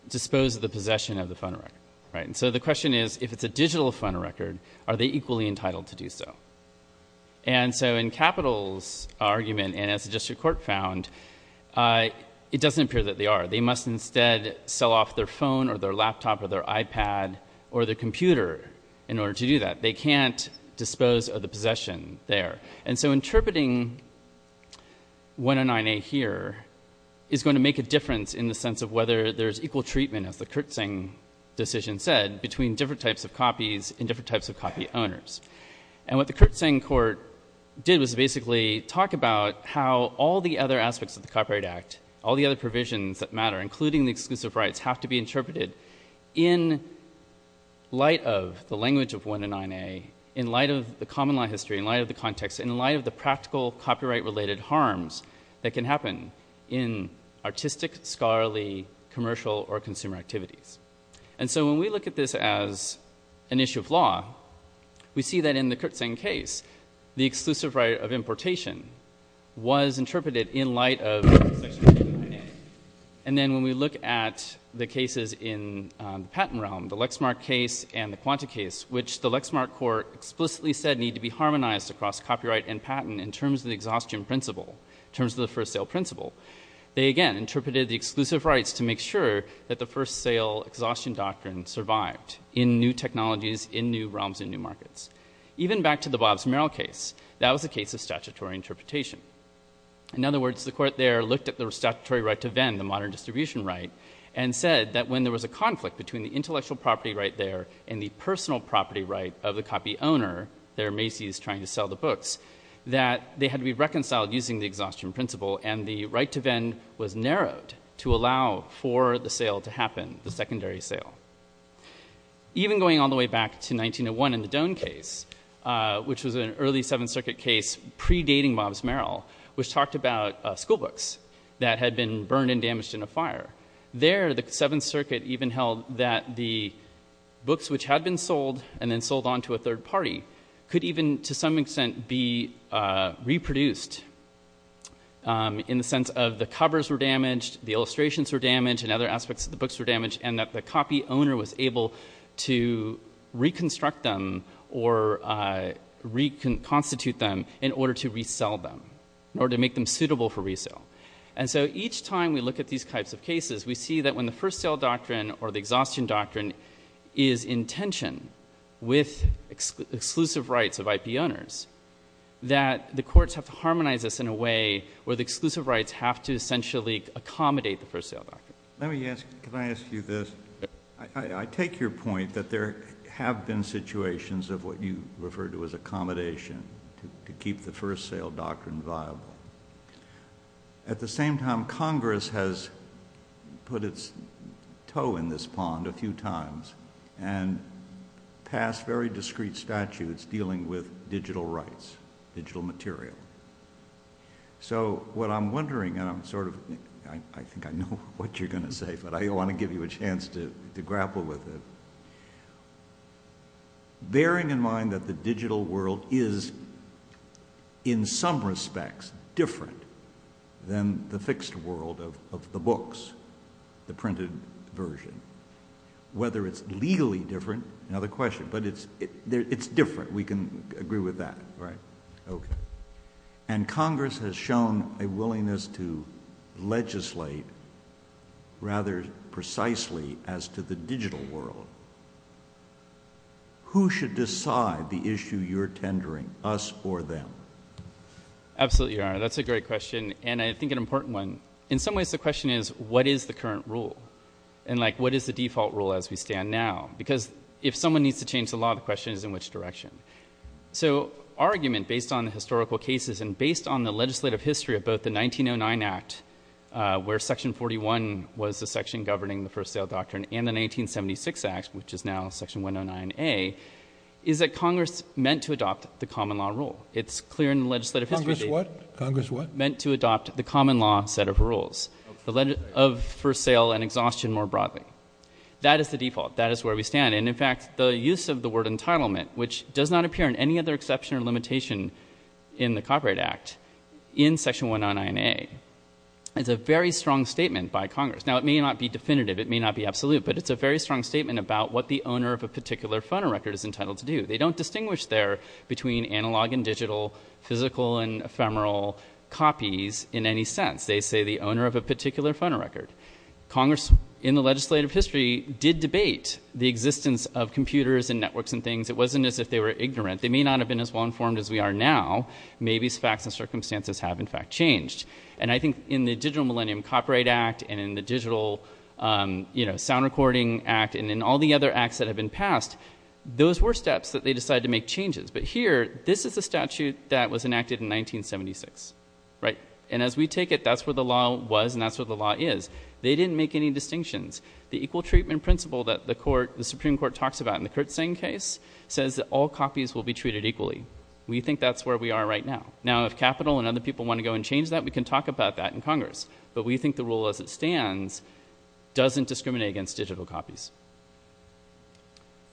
dispose of the possession of the phonorecord. So the question is if it's a digital phonorecord, are they equally entitled to do so? And so in Capital's argument and as the district court found it doesn't appear that they are. They must instead sell off their phone or their laptop or their iPad or their computer in order to do that. They can't dispose of the possession there. And so interpreting 109A here is going to make a difference in the sense of whether there's equal treatment, as the Kurtzeng decision said, between different types of copies and different types of copy owners. And what the Kurtzeng court did was basically talk about how all the other aspects of the Copyright Act all the other provisions that matter including the exclusive rights have to be interpreted in light of the language of 109A in light of the common law history in light of the context, in light of the practical copyright related harms that can happen in artistic scholarly commercial or consumer activities. And so when we look at this as an issue of law, we see that in the Kurtzeng case, the exclusive right of importation was interpreted in light of 109A. And then when we look at the cases in the patent realm, the Lexmark case and the Quanta case, which the Lexmark court explicitly said need to be harmonized across copyright and patent in terms of the exhaustion principle, in terms of the first sale principle, they again interpreted the exclusive rights to make sure that the first sale exhaustion doctrine survived in new technologies in new realms and new markets. Even back to the Bobbs-Merrill case, that was a case of statutory interpretation. In other words, the court there looked at the statutory right to vend, the modern distribution right, and said that when there was a conflict between the intellectual property right there and the personal property right of the copy owner there, Macy's, trying to sell the books, that they had to be reconciled using the exhaustion principle and the right to vend was narrowed to allow for the sale to happen, the secondary sale. Even going all the way back to 1901 in the Doan case, which was an early Seventh Circuit case predating Bobbs-Merrill, which talked about school books that had been burned and damaged in a fire. There, the Seventh Circuit even held that the books which had been sold and then sold on to a third party could even, to some extent, be reproduced in the sense of the covers were damaged, the illustrations were damaged, and other aspects of the books were damaged, and that the copy owner was able to reconstruct them or reconstitute them in order to resell them, or to make them suitable for resale. And so each time we look at these types of cases, we see that when the first sale doctrine or the exhaustion doctrine is in tension with exclusive rights of IP owners, that the courts have to harmonize this in a way where the exclusive rights have to essentially accommodate the first sale doctrine. Let me ask you this. I take your point that there have been situations of what you refer to as accommodation to keep the first sale doctrine viable. At the same time, Congress has put its toe in this pond a few times and passed very discreet statutes dealing with digital rights, digital material. So what I'm wondering, and I'm sort of, I think I know what you're going to say, but I want to give you a chance to grapple with it. Bearing in mind that the digital world is in some respects different than the fixed world of the books, the printed version. Whether it's legally different, another question, but it's different. We can agree with that. And Congress has shown a willingness to legislate rather precisely as to the digital world. Who should decide the issue you're tendering, us or them? Absolutely. That's a great question, and I think an important one. In some ways, the question is, what is the current rule? And like, what is the default rule as we stand now? Because if someone needs to change the law, the question is in which direction? So our argument, based on historical cases and based on the legislative history of both the 1909 Act, where Section 41 was the section governing the first sale doctrine, and the 1976 Act, which is now Section 109A, is that Congress is meant to adopt the common law rule. It's clear in legislative history meant to adopt the common law set of rules for sale and exhaustion more broadly. That is the default. That is where we stand. And in fact, the use of the word entitlement, which does not appear in any other exception or limitation in the Copyright Act, in Section 199A, is a very strong statement by Congress. Now, it may not be definitive, it may not be absolute, but it's a very strong statement about what the owner of a particular phonorecord is entitled to do. They don't distinguish there between analog and digital, physical and ephemeral copies in any sense. They say the owner of a particular phonorecord. Congress, in the legislative history, did debate the existence of computers and networks and things. It wasn't as if they were ignorant. They may not have been as well informed as we are now. Maybe facts and circumstances have, in fact, changed. And I think in the Digital Millennium Copyright Act and in the Digital Sound Recording Act and in all the other acts that have been passed, those were steps that they decided to make changes. But here, this is a statute that was enacted in 1976. Right? And as we take it, that's where the law was and that's where the law is. They didn't make any distinctions. The equal treatment principle that the Supreme Court talks about in the Kurtzsang case says that all copies will be treated equally. We think that's where we are right now. Now, if Capitol and other people want to go and change that, we can talk about that in Congress. But we think the rule as it stands doesn't discriminate against digital copies.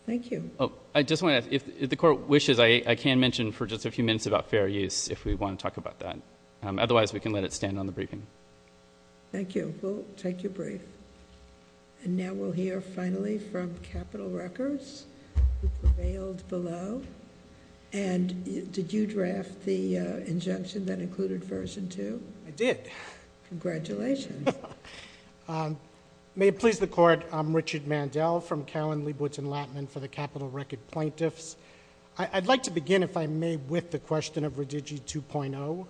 Thank you. Oh, I just want to ask, if the Court wishes, I can mention for just a few minutes about fair use, if we want to talk about that. Otherwise, we can let it stand on the briefing. Thank you. We'll take your brief. And now we'll hear finally from Capitol Records, who prevailed below. And did you draft the injunction that included Version 2? I did. Congratulations. May it please the Court, I'm Richard Mandel from Cowen, Leibowitz & Lattman for the Capitol Record Plaintiffs. I'd like to begin, if I may, with the question of Redigi 2.0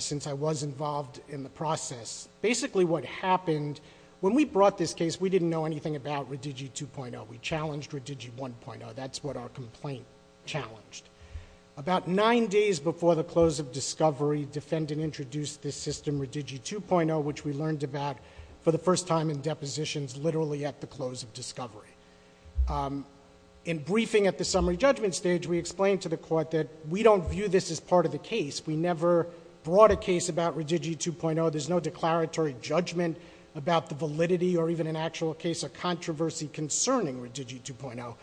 since I was involved in the process. Basically what happened when we brought this case, we didn't know anything about Redigi 2.0. We challenged Redigi 1.0. That's what our complaint challenged. About nine days before the close of discovery, defendant introduced this system, Redigi 2.0, which we learned about for the first time in depositions, literally at the close of discovery. In briefing at the summary judgment stage, we explained to the Court that we don't view this as part of the case. We never brought a case about Redigi 2.0. There's no declaratory judgment about the validity or even an actual case of controversy concerning Redigi 2.0.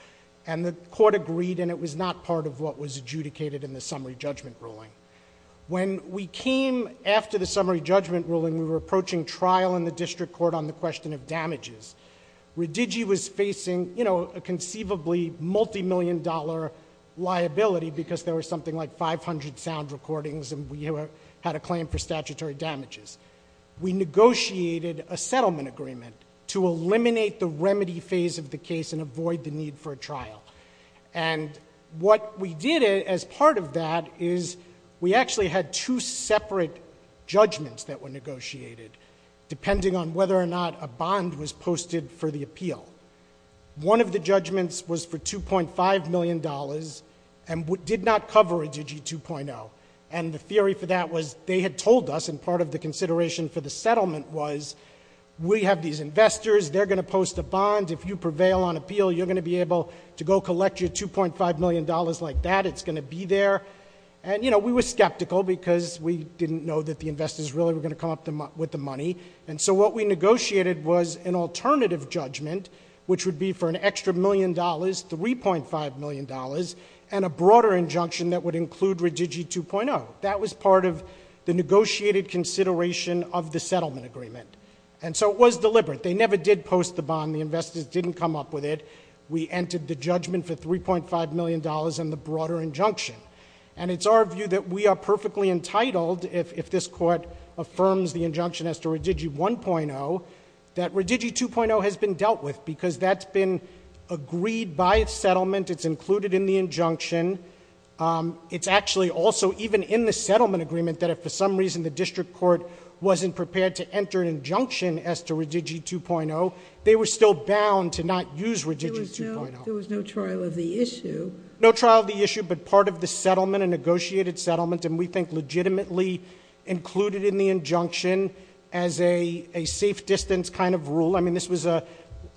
And the Court agreed, and it was not part of what was adjudicated in the summary judgment ruling. When we came after the summary judgment ruling, we were approaching trial in the district court on the question of damages. Redigi was facing, you know, a conceivably multi-million dollar liability because there was something like 500 sound recordings and we had a claim for statutory damages. We negotiated a settlement agreement to eliminate the remedy phase of the case and avoid the need for a trial. And what we did as part of that is we actually had two separate judgments that were negotiated depending on whether or not a bond was posted for the appeal. One of the judgments was for $2.5 million and did not cover Redigi 2.0. And the theory for that was they had told us, and part of the consideration for the settlement was we have these investors, they're going to post a bond. If you prevail on appeal, you're going to be able to go collect Redigi 2.5 million dollars like that. It's going to be there. And, you know, we were skeptical because we didn't know that the investors really were going to come up with the money. And so what we negotiated was an alternative judgment which would be for an extra million dollars, $3.5 million dollars and a broader injunction that would include Redigi 2.0. That was part of the negotiated consideration of the settlement agreement. And so it was deliberate. They never did post the bond. The investors didn't come up with it. We entered the judgment for $3.5 million dollars and the broader injunction. And it's our view that we are perfectly entitled if this Court affirms the injunction as to Redigi 1.0 that Redigi 2.0 has been dealt with because that's been agreed by the settlement. It's included in the injunction. It's actually also even in the settlement agreement that if for some reason the district court wasn't prepared to enter an injunction as to Redigi 2.0, they were still bound to not use Redigi 2.0. There was no trial of the issue. No trial of the issue but part of the settlement, a negotiated settlement, and we think legitimately included in the injunction as a safe distance kind of rule. I mean this was a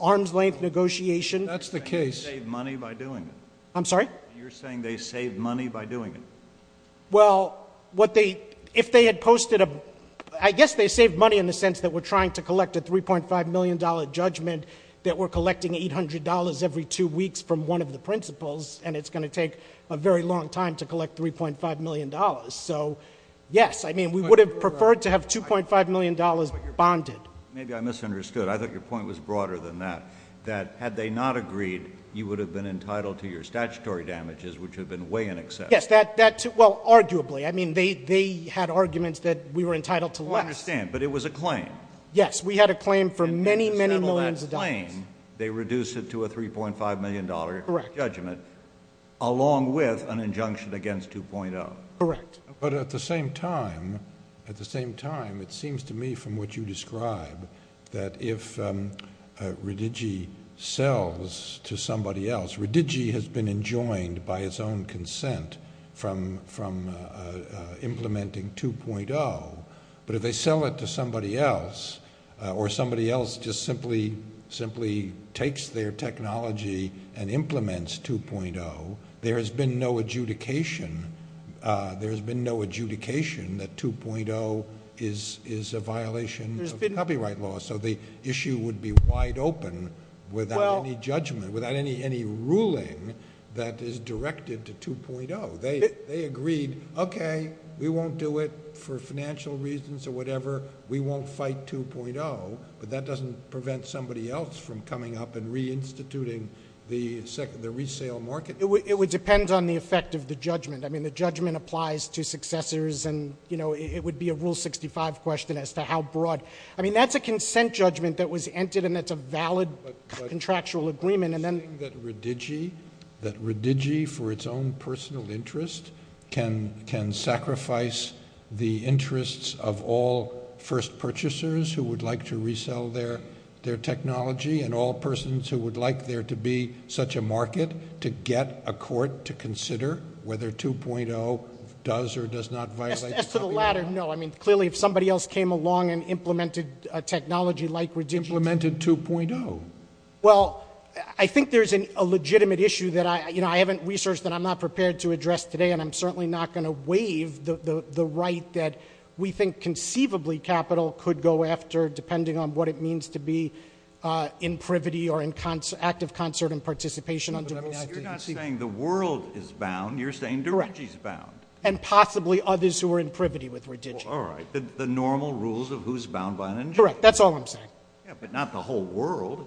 arm's length negotiation. That's the case. They saved money by doing it. I'm sorry? You're saying they saved money by doing it. Well, what they if they had posted a I guess they saved money in the sense that we're collecting $800 every two weeks from one of the principals and it's going to take a very long time to collect $3.5 million. So, yes. I mean we would have preferred to have $2.5 million bonded. Maybe I misunderstood. I thought your point was broader than that. That had they not agreed, you would have been entitled to your statutory damages which have been way in excess. Yes. Well, arguably. I mean they had arguments that we were entitled to less. I understand, but it was a claim. Yes, we had a claim for many, many millions of dollars. If they disable that claim, they reduce it to a $3.5 million judgment along with an injunction against 2.0. Correct. But at the same time at the same time it seems to me from what you describe that if Redigi sells to somebody else. Redigi has been enjoined by its own consent from implementing 2.0 but if they sell it to somebody else or somebody else just simply takes their technology and implements 2.0, there has been no adjudication there has been no adjudication that 2.0 is a violation of copyright laws so the issue would be wide open without any judgment without any ruling that is directed to 2.0. They agreed, okay we won't do it for financial reasons or whatever. We won't fight 2.0 but that doesn't prevent somebody else from coming up and reinstituting the resale market. It would depend on the effect of the judgment. I mean the judgment applies to successors and you know it would be a rule 65 question as to how broad. I mean that's a consent judgment that was entered and that's a valid contractual agreement and then that Redigi for its own personal interest can sacrifice the interests of all first purchasers who would like to resell their technology and all persons who would like there to be such a market to get a court to consider whether 2.0 does or does not violate copyright. Clearly if somebody else came along and implemented technology like Redigi. Implemented 2.0 Well I think there's a legitimate issue that I haven't researched and I'm not prepared to address today and I'm certainly not going to waive the right that we think conceivably capital could go after depending on what it means to be in privity or active concert and participation You're not saying the world is bound, you're saying Redigi's bound. And possibly others who are in privity with Redigi. Alright, the normal rules of who's bound by them? Correct, that's all I'm saying. But not the whole world.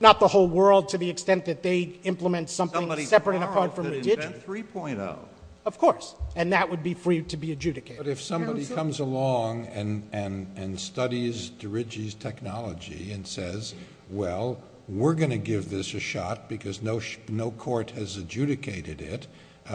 Not the whole world to the extent that they implement something separate from Redigi 3.0 Of course, and that would be free to be adjudicated. But if somebody comes along and studies Derigi's technology and says well, we're going to give this a shot because no court has adjudicated it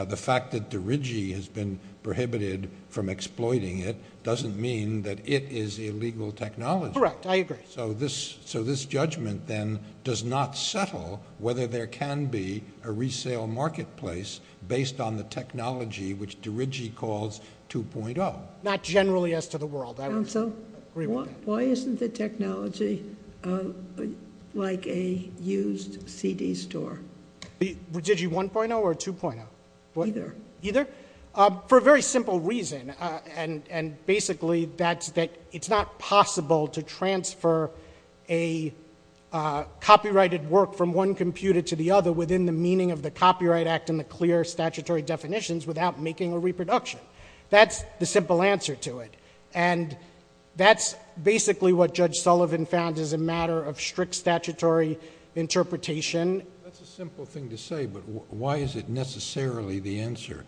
the fact that Derigi has been prohibited from exploiting it doesn't mean that it is illegal technology. Correct, I agree. So this judgment then does not settle whether there can be a resale marketplace based on the technology which Derigi calls 2.0 Not generally as to the world. Council, why isn't the technology like a used CD store? Redigi 1.0 or 2.0? Either. For a very simple reason basically that it's not possible to transfer a copyrighted work from one computer to the other within the meaning of the copyright act and the clear statutory definitions without making a reproduction. That's the simple answer to it. And that's basically what Judge Sullivan found as a matter of strict statutory interpretation. That's a simple thing to say but why is it necessarily the answer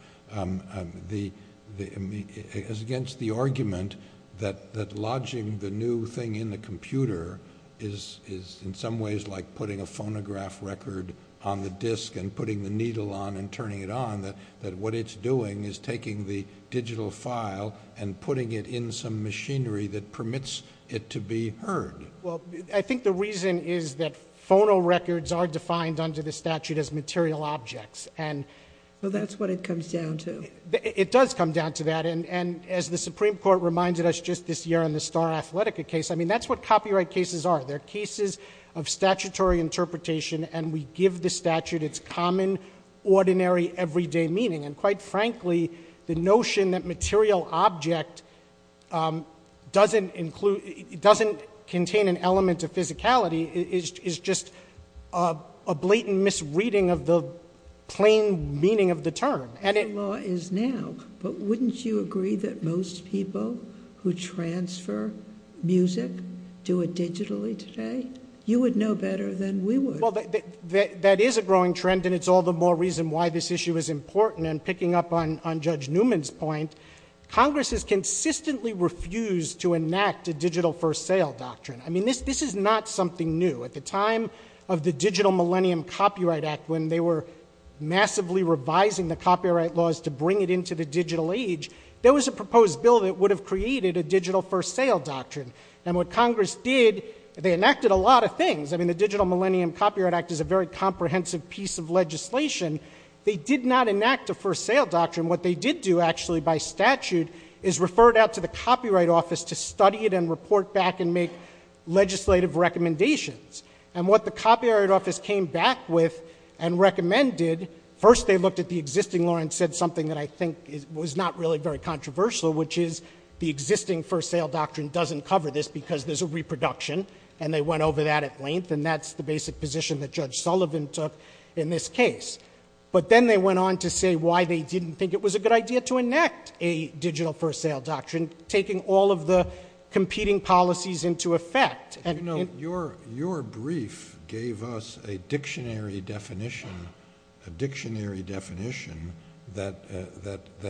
against the argument that lodging the new thing in the computer is in some ways like putting a phonograph record on the disc and putting the needle on and turning it on that what it's doing is taking the digital file and putting it in some machinery that permits it to be heard. I think the reason is that phonorecords are defined under the statute as material objects That's what it comes down to. It does come down to that and as the Supreme Court reminded us just this year in the Star Athletica case that's what copyright cases are. They're cases of statutory interpretation and we give the statute its common ordinary everyday meaning and quite frankly the notion that material object doesn't include doesn't contain an element of physicality is just a blatant misreading of the plain meaning of the term. The law is now but wouldn't you agree that most people who transfer music do it digitally today? You would know better than we would. That is a growing trend and it's all the more reason why this issue is important and picking up on Judge Newman's point Congress has consistently refused to enact a digital first sale doctrine. I mean this is not something new at the time of the digital millennium copyright act when they were massively revising the copyright laws to bring it into the digital age there was a proposed bill that would have created a digital first sale doctrine and what Congress did, they enacted a lot of things. I mean the digital millennium copyright act is a very comprehensive piece of legislation. They did not enact a first sale doctrine. What they did do actually by statute is refer it out to the copyright office to study it and report back and make legislative recommendations and what the copyright office came back with and recommended first they looked at the existing law and said something that I think was not really very controversial which is the existing first sale doctrine doesn't cover this because there's a reproduction and they went over that at length and that's the basic position that Judge Sullivan took in this case. But then they went on to say why they didn't think it was a good idea to enact a digital first sale doctrine taking all of the competing policies into effect and you know your brief gave us a dictionary definition that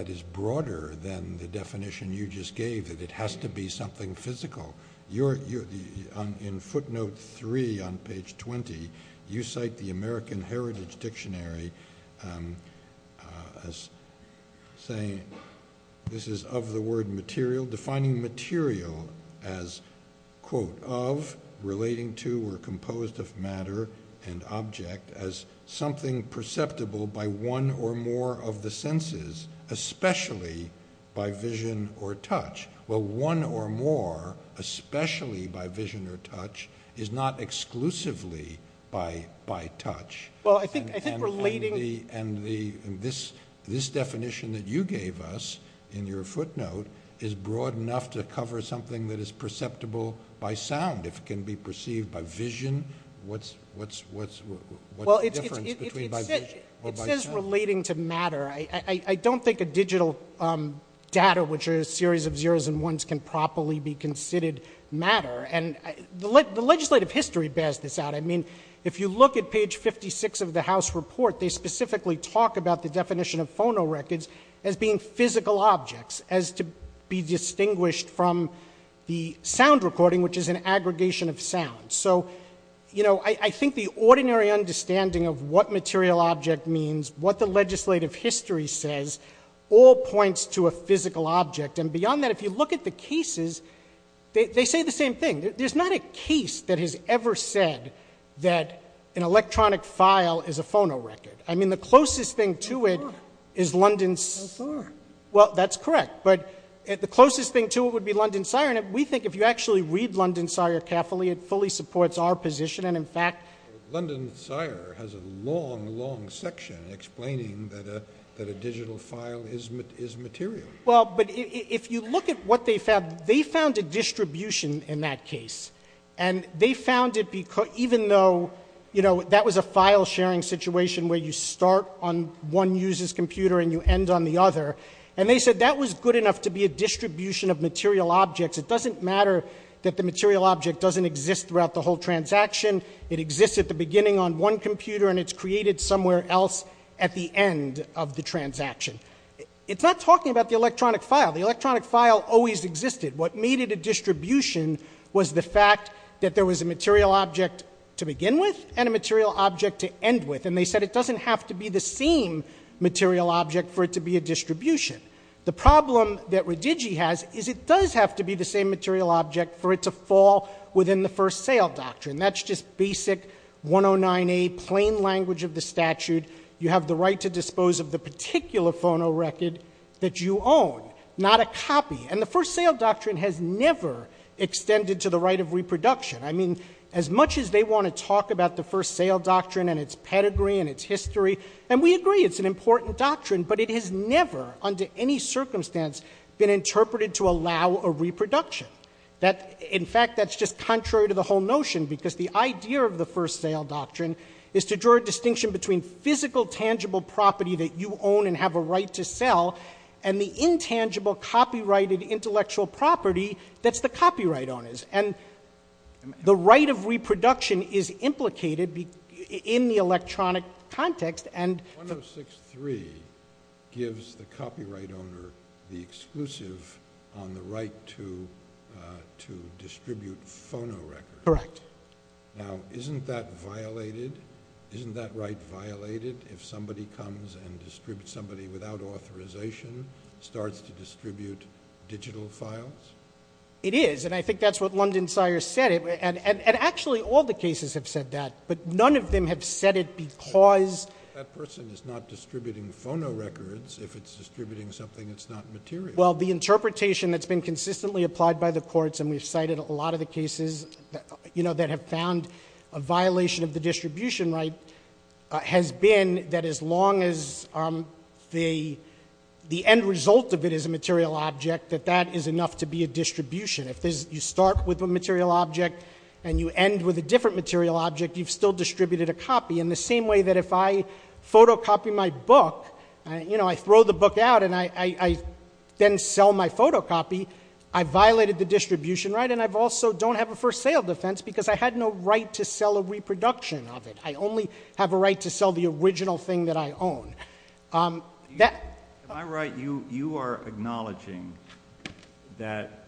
is broader than the definition you just gave. It has to be something physical. In footnote 3 on page 20 you cite the American Heritage Dictionary as saying this is of the word material. Defining material as quote of relating to or composed of matter and object as something perceptible by one or more of the senses especially by vision or touch. Well one or more especially by vision or touch is not exclusively by touch. Well I think relating and this definition that you gave us in your footnote is broad enough to cover something that is perceived by vision what's the difference? It says relating to matter. I don't think a digital data which are a series of zeros and ones can properly be considered matter and the legislative history bears this out. I mean if you look at page 56 of the House report they specifically talk about the definition of phonorecords as being physical objects as to be distinguished from the aggregation of sounds. So you know I think the ordinary understanding of what material object means, what the legislative history says all points to a physical object and beyond that if you look at the cases they say the same thing. There's not a case that has ever said that an electronic file is a phonorecord. I mean the closest thing to it is London's well that's correct but the closest thing to it would be London's It fully supports our position and in fact London's has a long long section explaining that a digital file is material Well but if you look at what they found, they found a distribution in that case and they found it even though you know that was a file sharing situation where you start on one user's computer and you end on the other and they said that was good enough to be a distribution of material objects It doesn't matter that the material object doesn't exist throughout the whole transaction It exists at the beginning on one computer and it's created somewhere else at the end of the transaction It's not talking about the electronic file. The electronic file always existed. What made it a distribution was the fact that there was a material object to begin with and a material object to end with and they said it doesn't have to be the same material object for it to be a distribution The problem that it doesn't have to be the same material object for it to fall within the First Sale Doctrine. That's just basic 1098 plain language of the statute. You have the right to dispose of the particular phono record that you own, not a copy and the First Sale Doctrine has never extended to the right of reproduction I mean as much as they want to talk about the First Sale Doctrine and it's pedigree and it's history and we agree it's an important doctrine but it has never under any circumstance been interpreted to allow a reproduction. In fact that's just contrary to the whole notion because the idea of the First Sale Doctrine is to draw a distinction between physical tangible property that you own and have a right to sell and the intangible copyrighted intellectual property that's the copyright owners and the right of reproduction is implicated in the electronic context and 106.3 gives the copyright owner the exclusive on the right to phono records. Correct. Now isn't that violated? Isn't that right violated if somebody comes and distributes somebody without authorization starts to distribute digital files? It is and I think that's what London Sires said and actually all the cases have said that but none of them have said it because... That person is not distributing something that's not material. Well the interpretation that's been consistently applied by the courts and we've cited a lot of the cases that have found a violation of the distribution right has been that as long as the end result of it is a material object that that is enough to be a distribution. You start with a material object and you end with a different material object you've still distributed a copy in the same way that if I photocopy my book, you know I throw the book out and I then sell my photocopy, I violated the distribution right and I also don't have a first sale defense because I had no right to sell a reproduction of it. I only have a right to sell the original thing that I own. Am I right? You are acknowledging that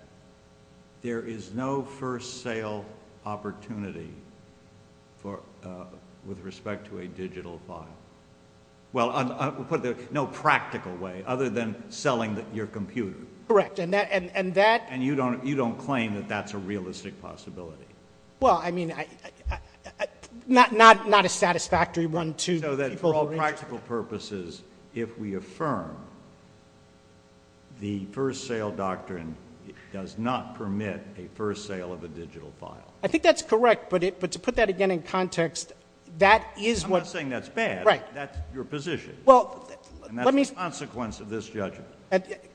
there is no first sale opportunity with respect to a digital file. Well no practical way other than selling your computer. And that you don't claim that that's a realistic possibility. Well I mean not a satisfactory one to people. The practical purpose is if we affirm the first sale doctrine does not permit a first sale of a digital file. I think that's correct but to put that again in context I'm not saying that's bad that's your position and that's the consequence of this judgment.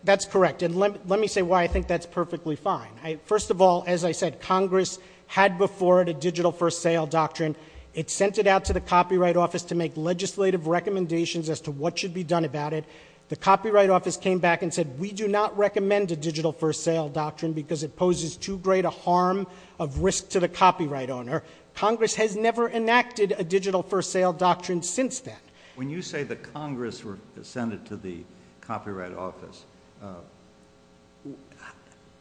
That's correct and let me say why I think that's perfectly fine. First of all, as I said, Congress had before it a digital first sale doctrine. It sent it out to the Copyright Office to make legislative recommendations as to what should be done about it. The Copyright Office came back and said we do not recommend a digital first sale doctrine because it poses too great a harm of risk to the copyright owner. Congress has never enacted a digital first sale doctrine since that. When you say that Congress sent it to the Copyright Office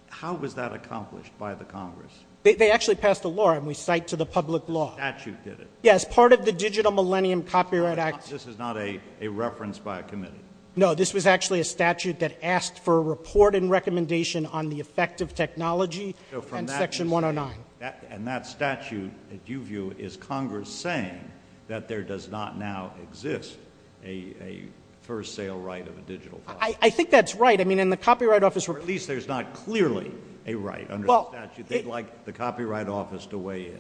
how was that accomplished by the Congress? They actually passed a law and we cite to the public law. Statute did it. Yes, part of the Digital Millennium Copyright Act. This is not a reference by a committee. No this was actually a statute that asked for a report and recommendation on the effective technology and that statute is Congress saying that there does not now exist a first sale right of a digital copy. I think that's right. At least there's not clearly a right under the statute. They'd like the Copyright Office to weigh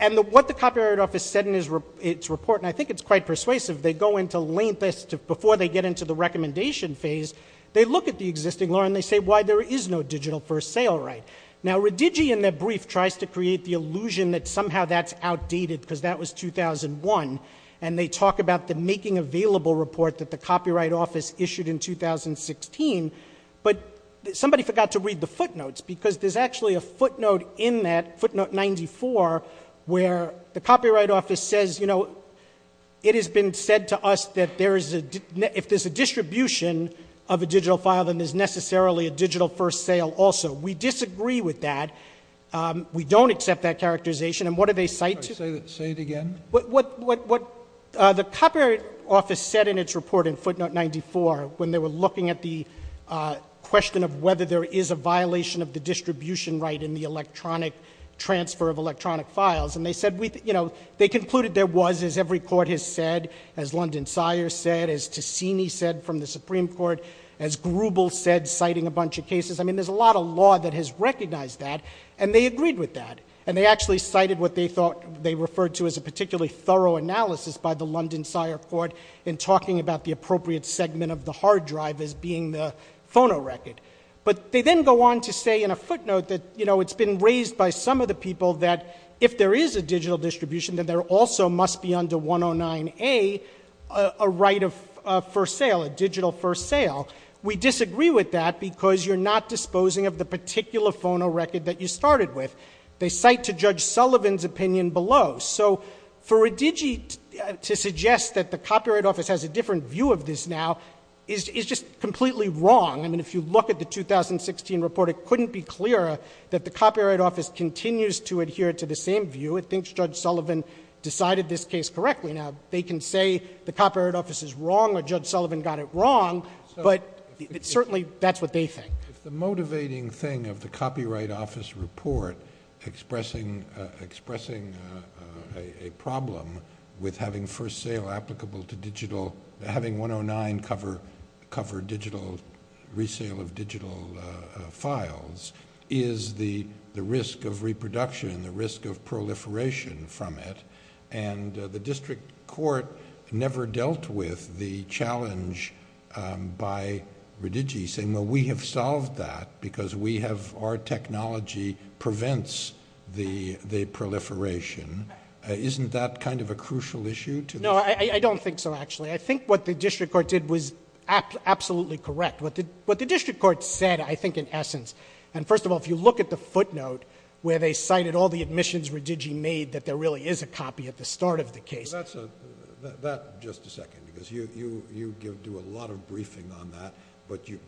in. What the Copyright Office said in its report and I think it's quite persuasive, they go into before they get into the recommendation phase, they look at the existing law and they say why there is no digital first sale right. Now Redigi in their brief tries to create the illusion that somehow that's outdated because that was 2001 and they talk about the making available report that the Copyright Office issued in 2016 but somebody forgot to read the footnotes because there's actually a footnote in that footnote 94 where the Copyright Office says it has been said to us that if there's a distribution of a digital file then it is necessarily a digital first sale also. We disagree with that. We don't accept that characterization and what do they cite? Say it again? What the Copyright Office said in its report in footnote 94 when they were looking at the question of whether there is a violation of the distribution right in the electronic transfer of electronic files and they said they concluded there was as every court has said, as London Sires said, as Cassini said from the Supreme Court, as Grubel said citing a bunch of cases, I mean there's a lot of law that has recognized that and they agreed with that and they actually cited what they thought they referred to as a particularly thorough analysis by the London Sire Court in talking about the appropriate segment of the hard drive as being the phonorecord but they then go on to say in a footnote that you know it's been raised by some of the people that if there is a digital distribution then there also must be under 109A a right of first sale a digital first sale. We disagree with that because you're not disposing of the particular phonorecord that you started with. They cite to Judge Sullivan's opinion below. So for Redigi to suggest that the Copyright Office has a different view of this now is just completely wrong. I mean if you look at the 2016 report it couldn't be clearer that the Copyright Office continues to adhere to the same view. I think Judge Sullivan decided this case incorrectly. Now they can say the Copyright Office is wrong or Judge Sullivan got it wrong but certainly that's what they think. The motivating thing of the Copyright Office report expressing a problem with having first sale applicable to digital having 109 cover digital resale of digital files is the risk of reproduction, the risk of proliferation from it and the district court never dealt with the challenge by Redigi saying we have solved that because we have our technology prevents the proliferation. Isn't that kind of a crucial issue? No I don't think so actually. I think what the district court did was absolutely correct. What the district court said I think in essence and first of all if you look at the footnote where they cited all the admissions Redigi made that there really is a copy at the start of the case. Just a second because you do a lot of briefing on that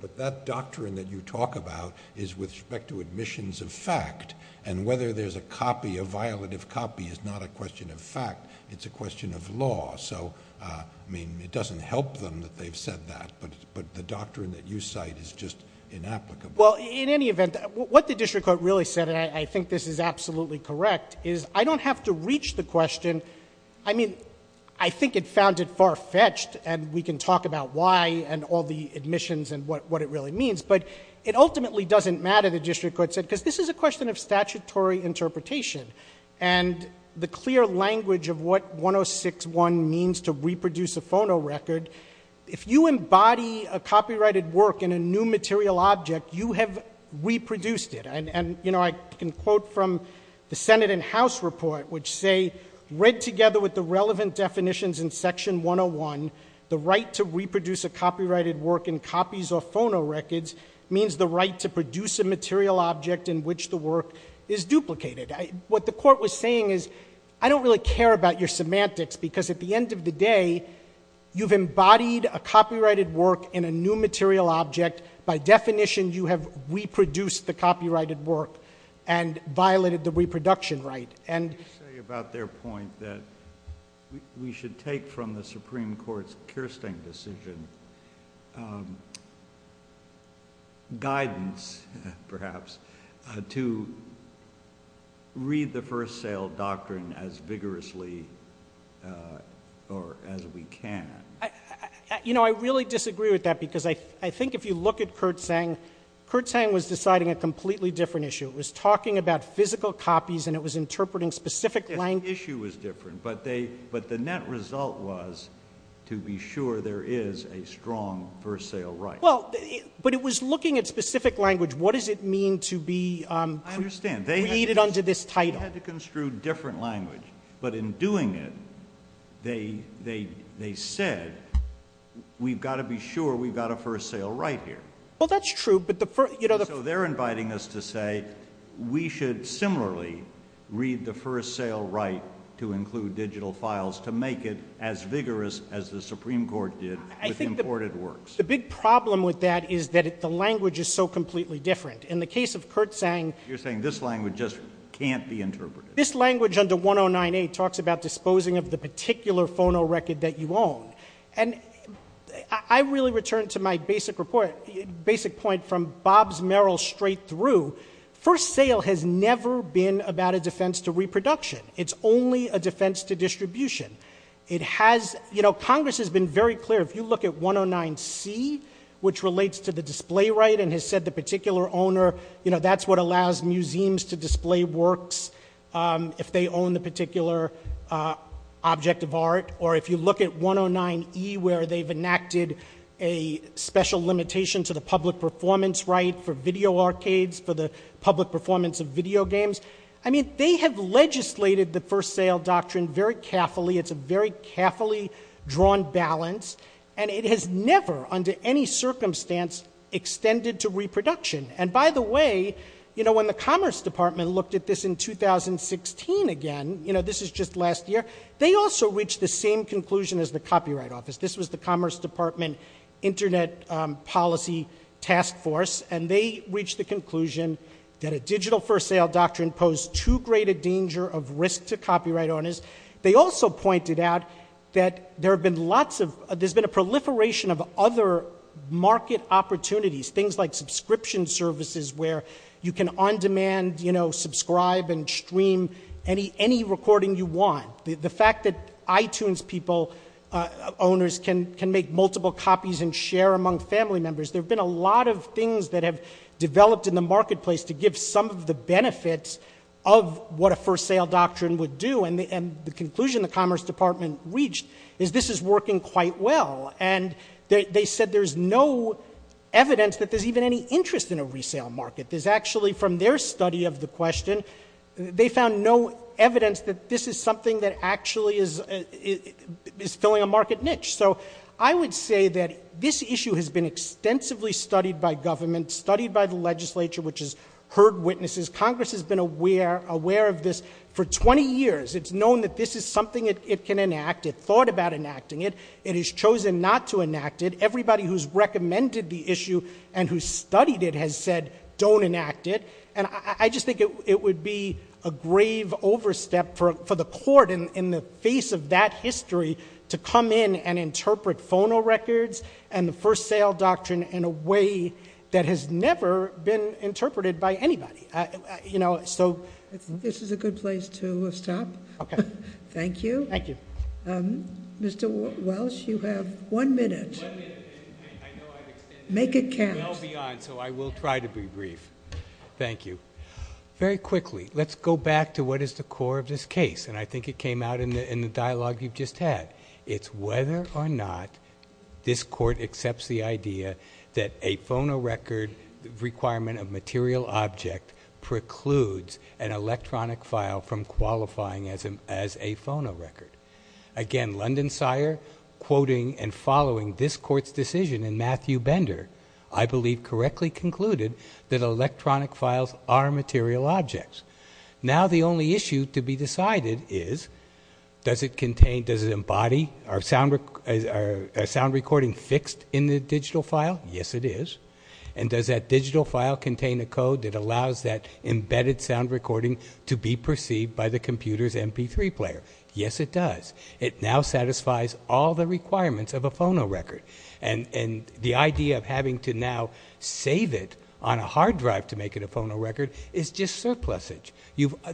but that doctrine that you talk about is with respect to admissions in fact and whether there's a copy a violative copy is not a question of fact it's a question of law so I mean it doesn't help them that they've said that but the doctrine that you cite is just inapplicable. Well in any event what the district court really said and I think this is absolutely correct is I don't have to reach the question I mean I think it found it far fetched and we can talk about why and all the admissions and what it really means but it ultimately doesn't matter the district court said because this is a question of statutory interpretation and the clear language of what 106.1 means to reproduce a phonorecord if you embody a copyrighted work in a new material object you have reproduced it and you know I can quote from the Senate and House report which say read together with the relevant definitions in section 101 the right to reproduce a copyrighted work in copies of phonorecords means the right to produce a material object in which the work is duplicated. What the court was saying is I don't really care about your semantics because at the end of the day you've embodied a copyrighted work in a new recognition you have reproduced the copyrighted work and violated the reproduction right and about their point that we should take from the Supreme Court's Kirsten decision guidance perhaps to read the first sale doctrine as vigorously or as we can. You know I really disagree with that because I think if you look at Kurtzhang Kurtzhang was deciding a completely different issue it was talking about physical copies and it was interpreting specific language the issue was different but the net result was to be sure there is a strong first sale right. Well, but it was looking at specific language what does it mean to be created under this title? They had to construe different language but in doing it they said we've got to be sure we've got a first sale right here. Well that's true but the first you know So they're inviting us to say we should similarly read the first sale right to include digital files to make it as vigorous as the Supreme Court did with imported works. The big problem with that is that the language is so completely different. In the case of Kurtzhang You're saying this language just can't be interpreted. This language under 109A talks about disposing of the particular phono record that you own. And I really return to my basic point from Bob's Merrill straight through first sale has never been about a defense to reproduction it's only a defense to distribution. It has Congress has been very clear if you look at 109C which relates to the display right and has said the particular owner that's what allows museums to display works if they own the particular object of art or if you look at 109E where they've enacted a special limitation to the public performance right for video arcades for the public performance of video games I mean they have legislated the first sale doctrine very carefully it's a very carefully drawn balance and it has never under any circumstance extended to reproduction and by the way you know when the Commerce Department looked at this in 2016 again you know this is just last year they also reached the same conclusion as the copyright office this was the Commerce Department Internet Policy Task Force and they reached the conclusion that a digital first sale doctrine posed too great a danger of risk to copyright owners they also pointed out that there have been lots of there's been a proliferation of other market opportunities things like subscription services where you can on demand you know subscribe and stream any recording you want the fact that iTunes people owners can make multiple copies and share among family members there have been a lot of things that have developed in the marketplace to give some of the benefits of what a first sale doctrine would do and the conclusion the Commerce Department reached is this is working quite well and they said there's no evidence that there's even any interest in a resale market there's actually from their study of the question they found no evidence that this is something that actually is filling a market niche so I would say that this issue has been extensively studied by government studied by the legislature which has heard witnesses Congress has been aware of this for 20 years it's known that this is something it can enact it thought about enacting it it has chosen not to enact it everybody who's recommended the issue and who studied it has said don't enact it and I just think it would be a grave overstep for the court in the face of that history to come in and interpret phono records and the first sale doctrine in a way that has never been interpreted by anybody so this is a good place to stop thank you Mr. Welch you have one minute make it carry so I will try to be brief thank you very quickly let's go back to what is the core of this case and I think it came out in the dialogue you just had it's whether or not this court accepts the idea that a phono record requirement of material object precludes an electronic file from qualifying as a phono record again London Sire quoting and I believe correctly concluded that electronic files are material objects now the only issue to be decided is does it contain does it embody a sound recording fixed in the digital file yes it is and does that digital file contain a code that allows that embedded sound recording to be perceived by the computers mp3 player yes it does it now satisfies all the requirements of a phono record and the idea of having to now save it on a hard drive to make it a phono record is just surplusage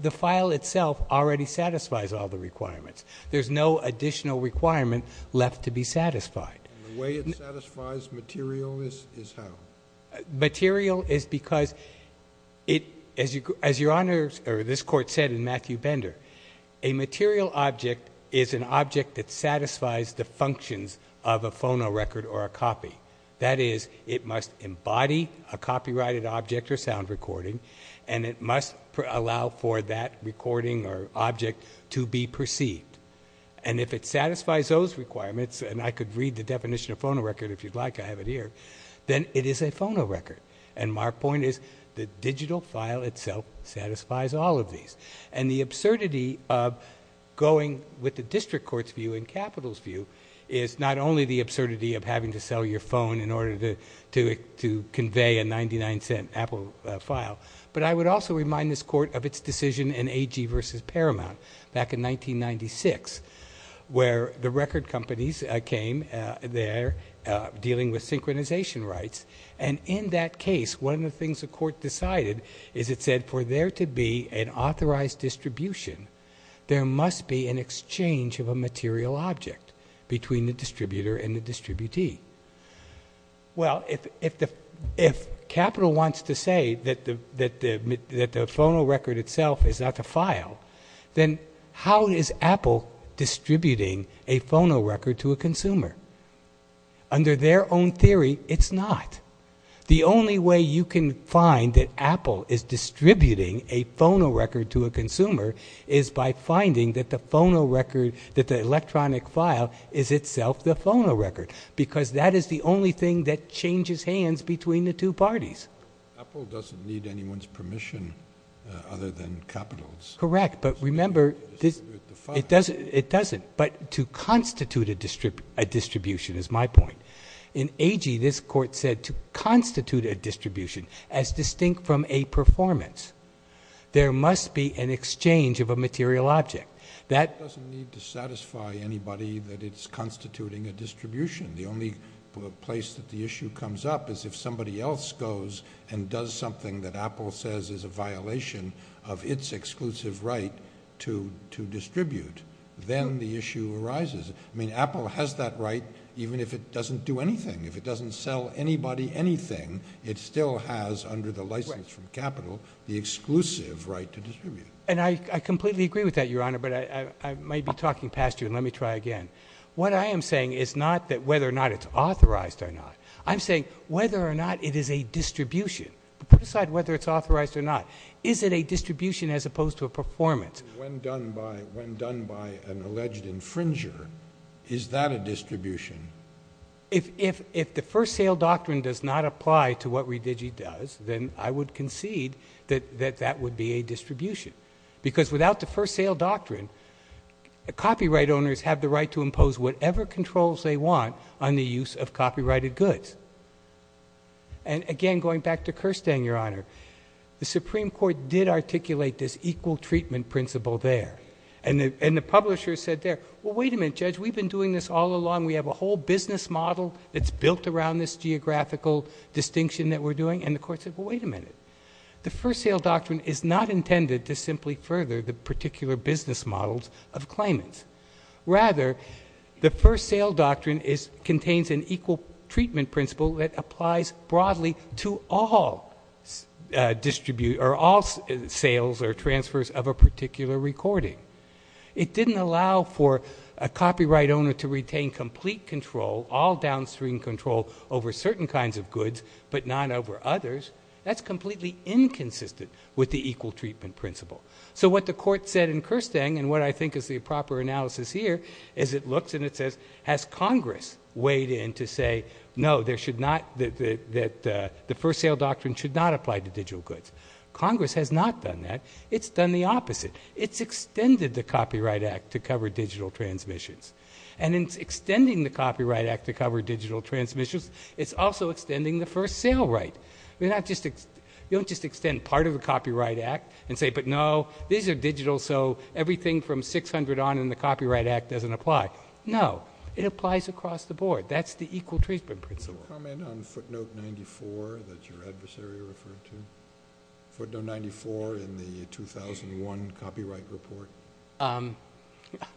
the file itself already satisfies all the requirements there is no additional requirement left to be satisfied the way it satisfies material is how material is because it as your honor this court said in Matthew Bender a material object is an object that satisfies the functions of a phono record or a copy that is it must embody a copyrighted object or sound recording and it must allow for that recording or object to be perceived and if it satisfies those requirements and I could read the definition of phono record if you'd like I have it here then it is a phono record and my point is digital file itself satisfies all of these and the absurdity of going with is not only the absurdity of having to sell your phone in order to convey a 99 cent Apple file but I would also remind this court of its decision in AG versus Paramount back in 1996 where the record companies came there dealing with synchronization rights and in that case one of the things the court decided is it said for there to be an authorized distribution there must be an exchange of a material object between the distributor and the distributee well if Capital wants to say that the phono record itself is not a file then how is Apple distributing a phono record to a consumer under their own theory it's not the only way you can find that Apple is distributing a phono record to a consumer is by finding that the phono record that the electronic file is itself the phono record because that is the only thing that changes hands between the two parties Apple doesn't need anyone's permission other than Capital's correct but remember it doesn't but to constitute a distribution is my point in AG this court said to constitute a distribution as distinct from a performance there must be an exchange of a material object that doesn't need to satisfy anybody that it's constituting a distribution the only place that the issue comes up is if somebody else goes and does something that Apple says is a violation of its exclusive right to distribute then the issue arises Apple has that right even if it doesn't do anything if it doesn't sell anybody anything it still has under the license from Capital the exclusive right to distribute and I completely agree with that your honor but I may be talking past you let me try again what I am saying is not that whether or not it's authorized or not I'm saying whether or not it is a distribution put aside whether it's authorized or not is it a distribution as opposed to a performance when done by an alleged infringer is that a distribution if the first sale doctrine does not apply to what ReVigi does then I would concede that that would be a distribution because without the first sale doctrine copyright owners have the right to impose whatever controls they want on the use of copyrighted goods and again going back to Kirsten your honor the Supreme Court did articulate this equal treatment principle there and the publisher said there well wait a minute judge we've been doing this all along we have a whole business model that's built around this geographical distinction that we're doing and the court said well wait a minute the first sale doctrine is not intended to simply further the particular business models of claimants rather the first sale doctrine contains an equal treatment principle that applies broadly to all sales or transfers of a particular recording it didn't allow for a copyright owner to have downstream control over certain kinds of goods but not over others that's completely inconsistent with the equal treatment principle so what the court said in Kirsten and what I think is the proper analysis here is it looks and it says has Congress weighed in to say no there should not the first sale doctrine should not apply to digital goods Congress has not done that it's done the opposite it's extended the copyright act to cover digital transmissions and in extending the copyright act to cover digital transmissions it's also extending the first sale right you don't just extend part of the copyright act and say no these are digital so everything from 600 on in the copyright act doesn't apply no it applies across the board that's the equal treatment principle. Comment on footnote 94 that your adversary referred to footnote 94 in the 2001 copyright report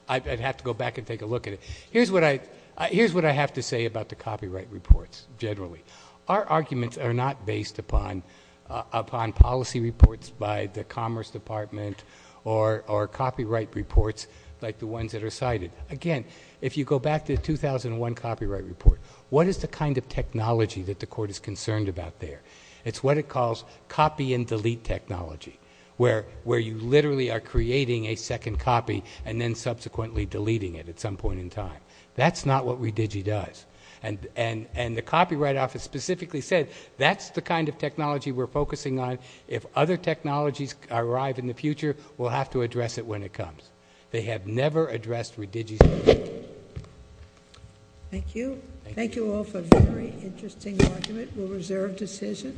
I'd have to go back and take a look at it here's what I have to say about the copyright reports generally our arguments are not based upon policy reports by the commerce department or copyright reports like the ones that are cited again if you go back to the 2001 copyright report what is the kind of technology that the court is concerned about there it's what it calls copy and delete technology where you literally are creating a second copy and then subsequently deleting it at some point in time that's not what redigi does and the copyright office specifically says that's the kind of technology we're focusing on if other technologies arrive in the future we'll have to address it when it comes they have never addressed redigi thank you thank you all for a very interesting argument a reserved decision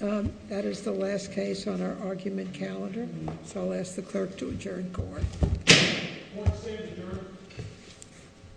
that is the last case on our argument calendar so I'll ask the clerk to adjourn court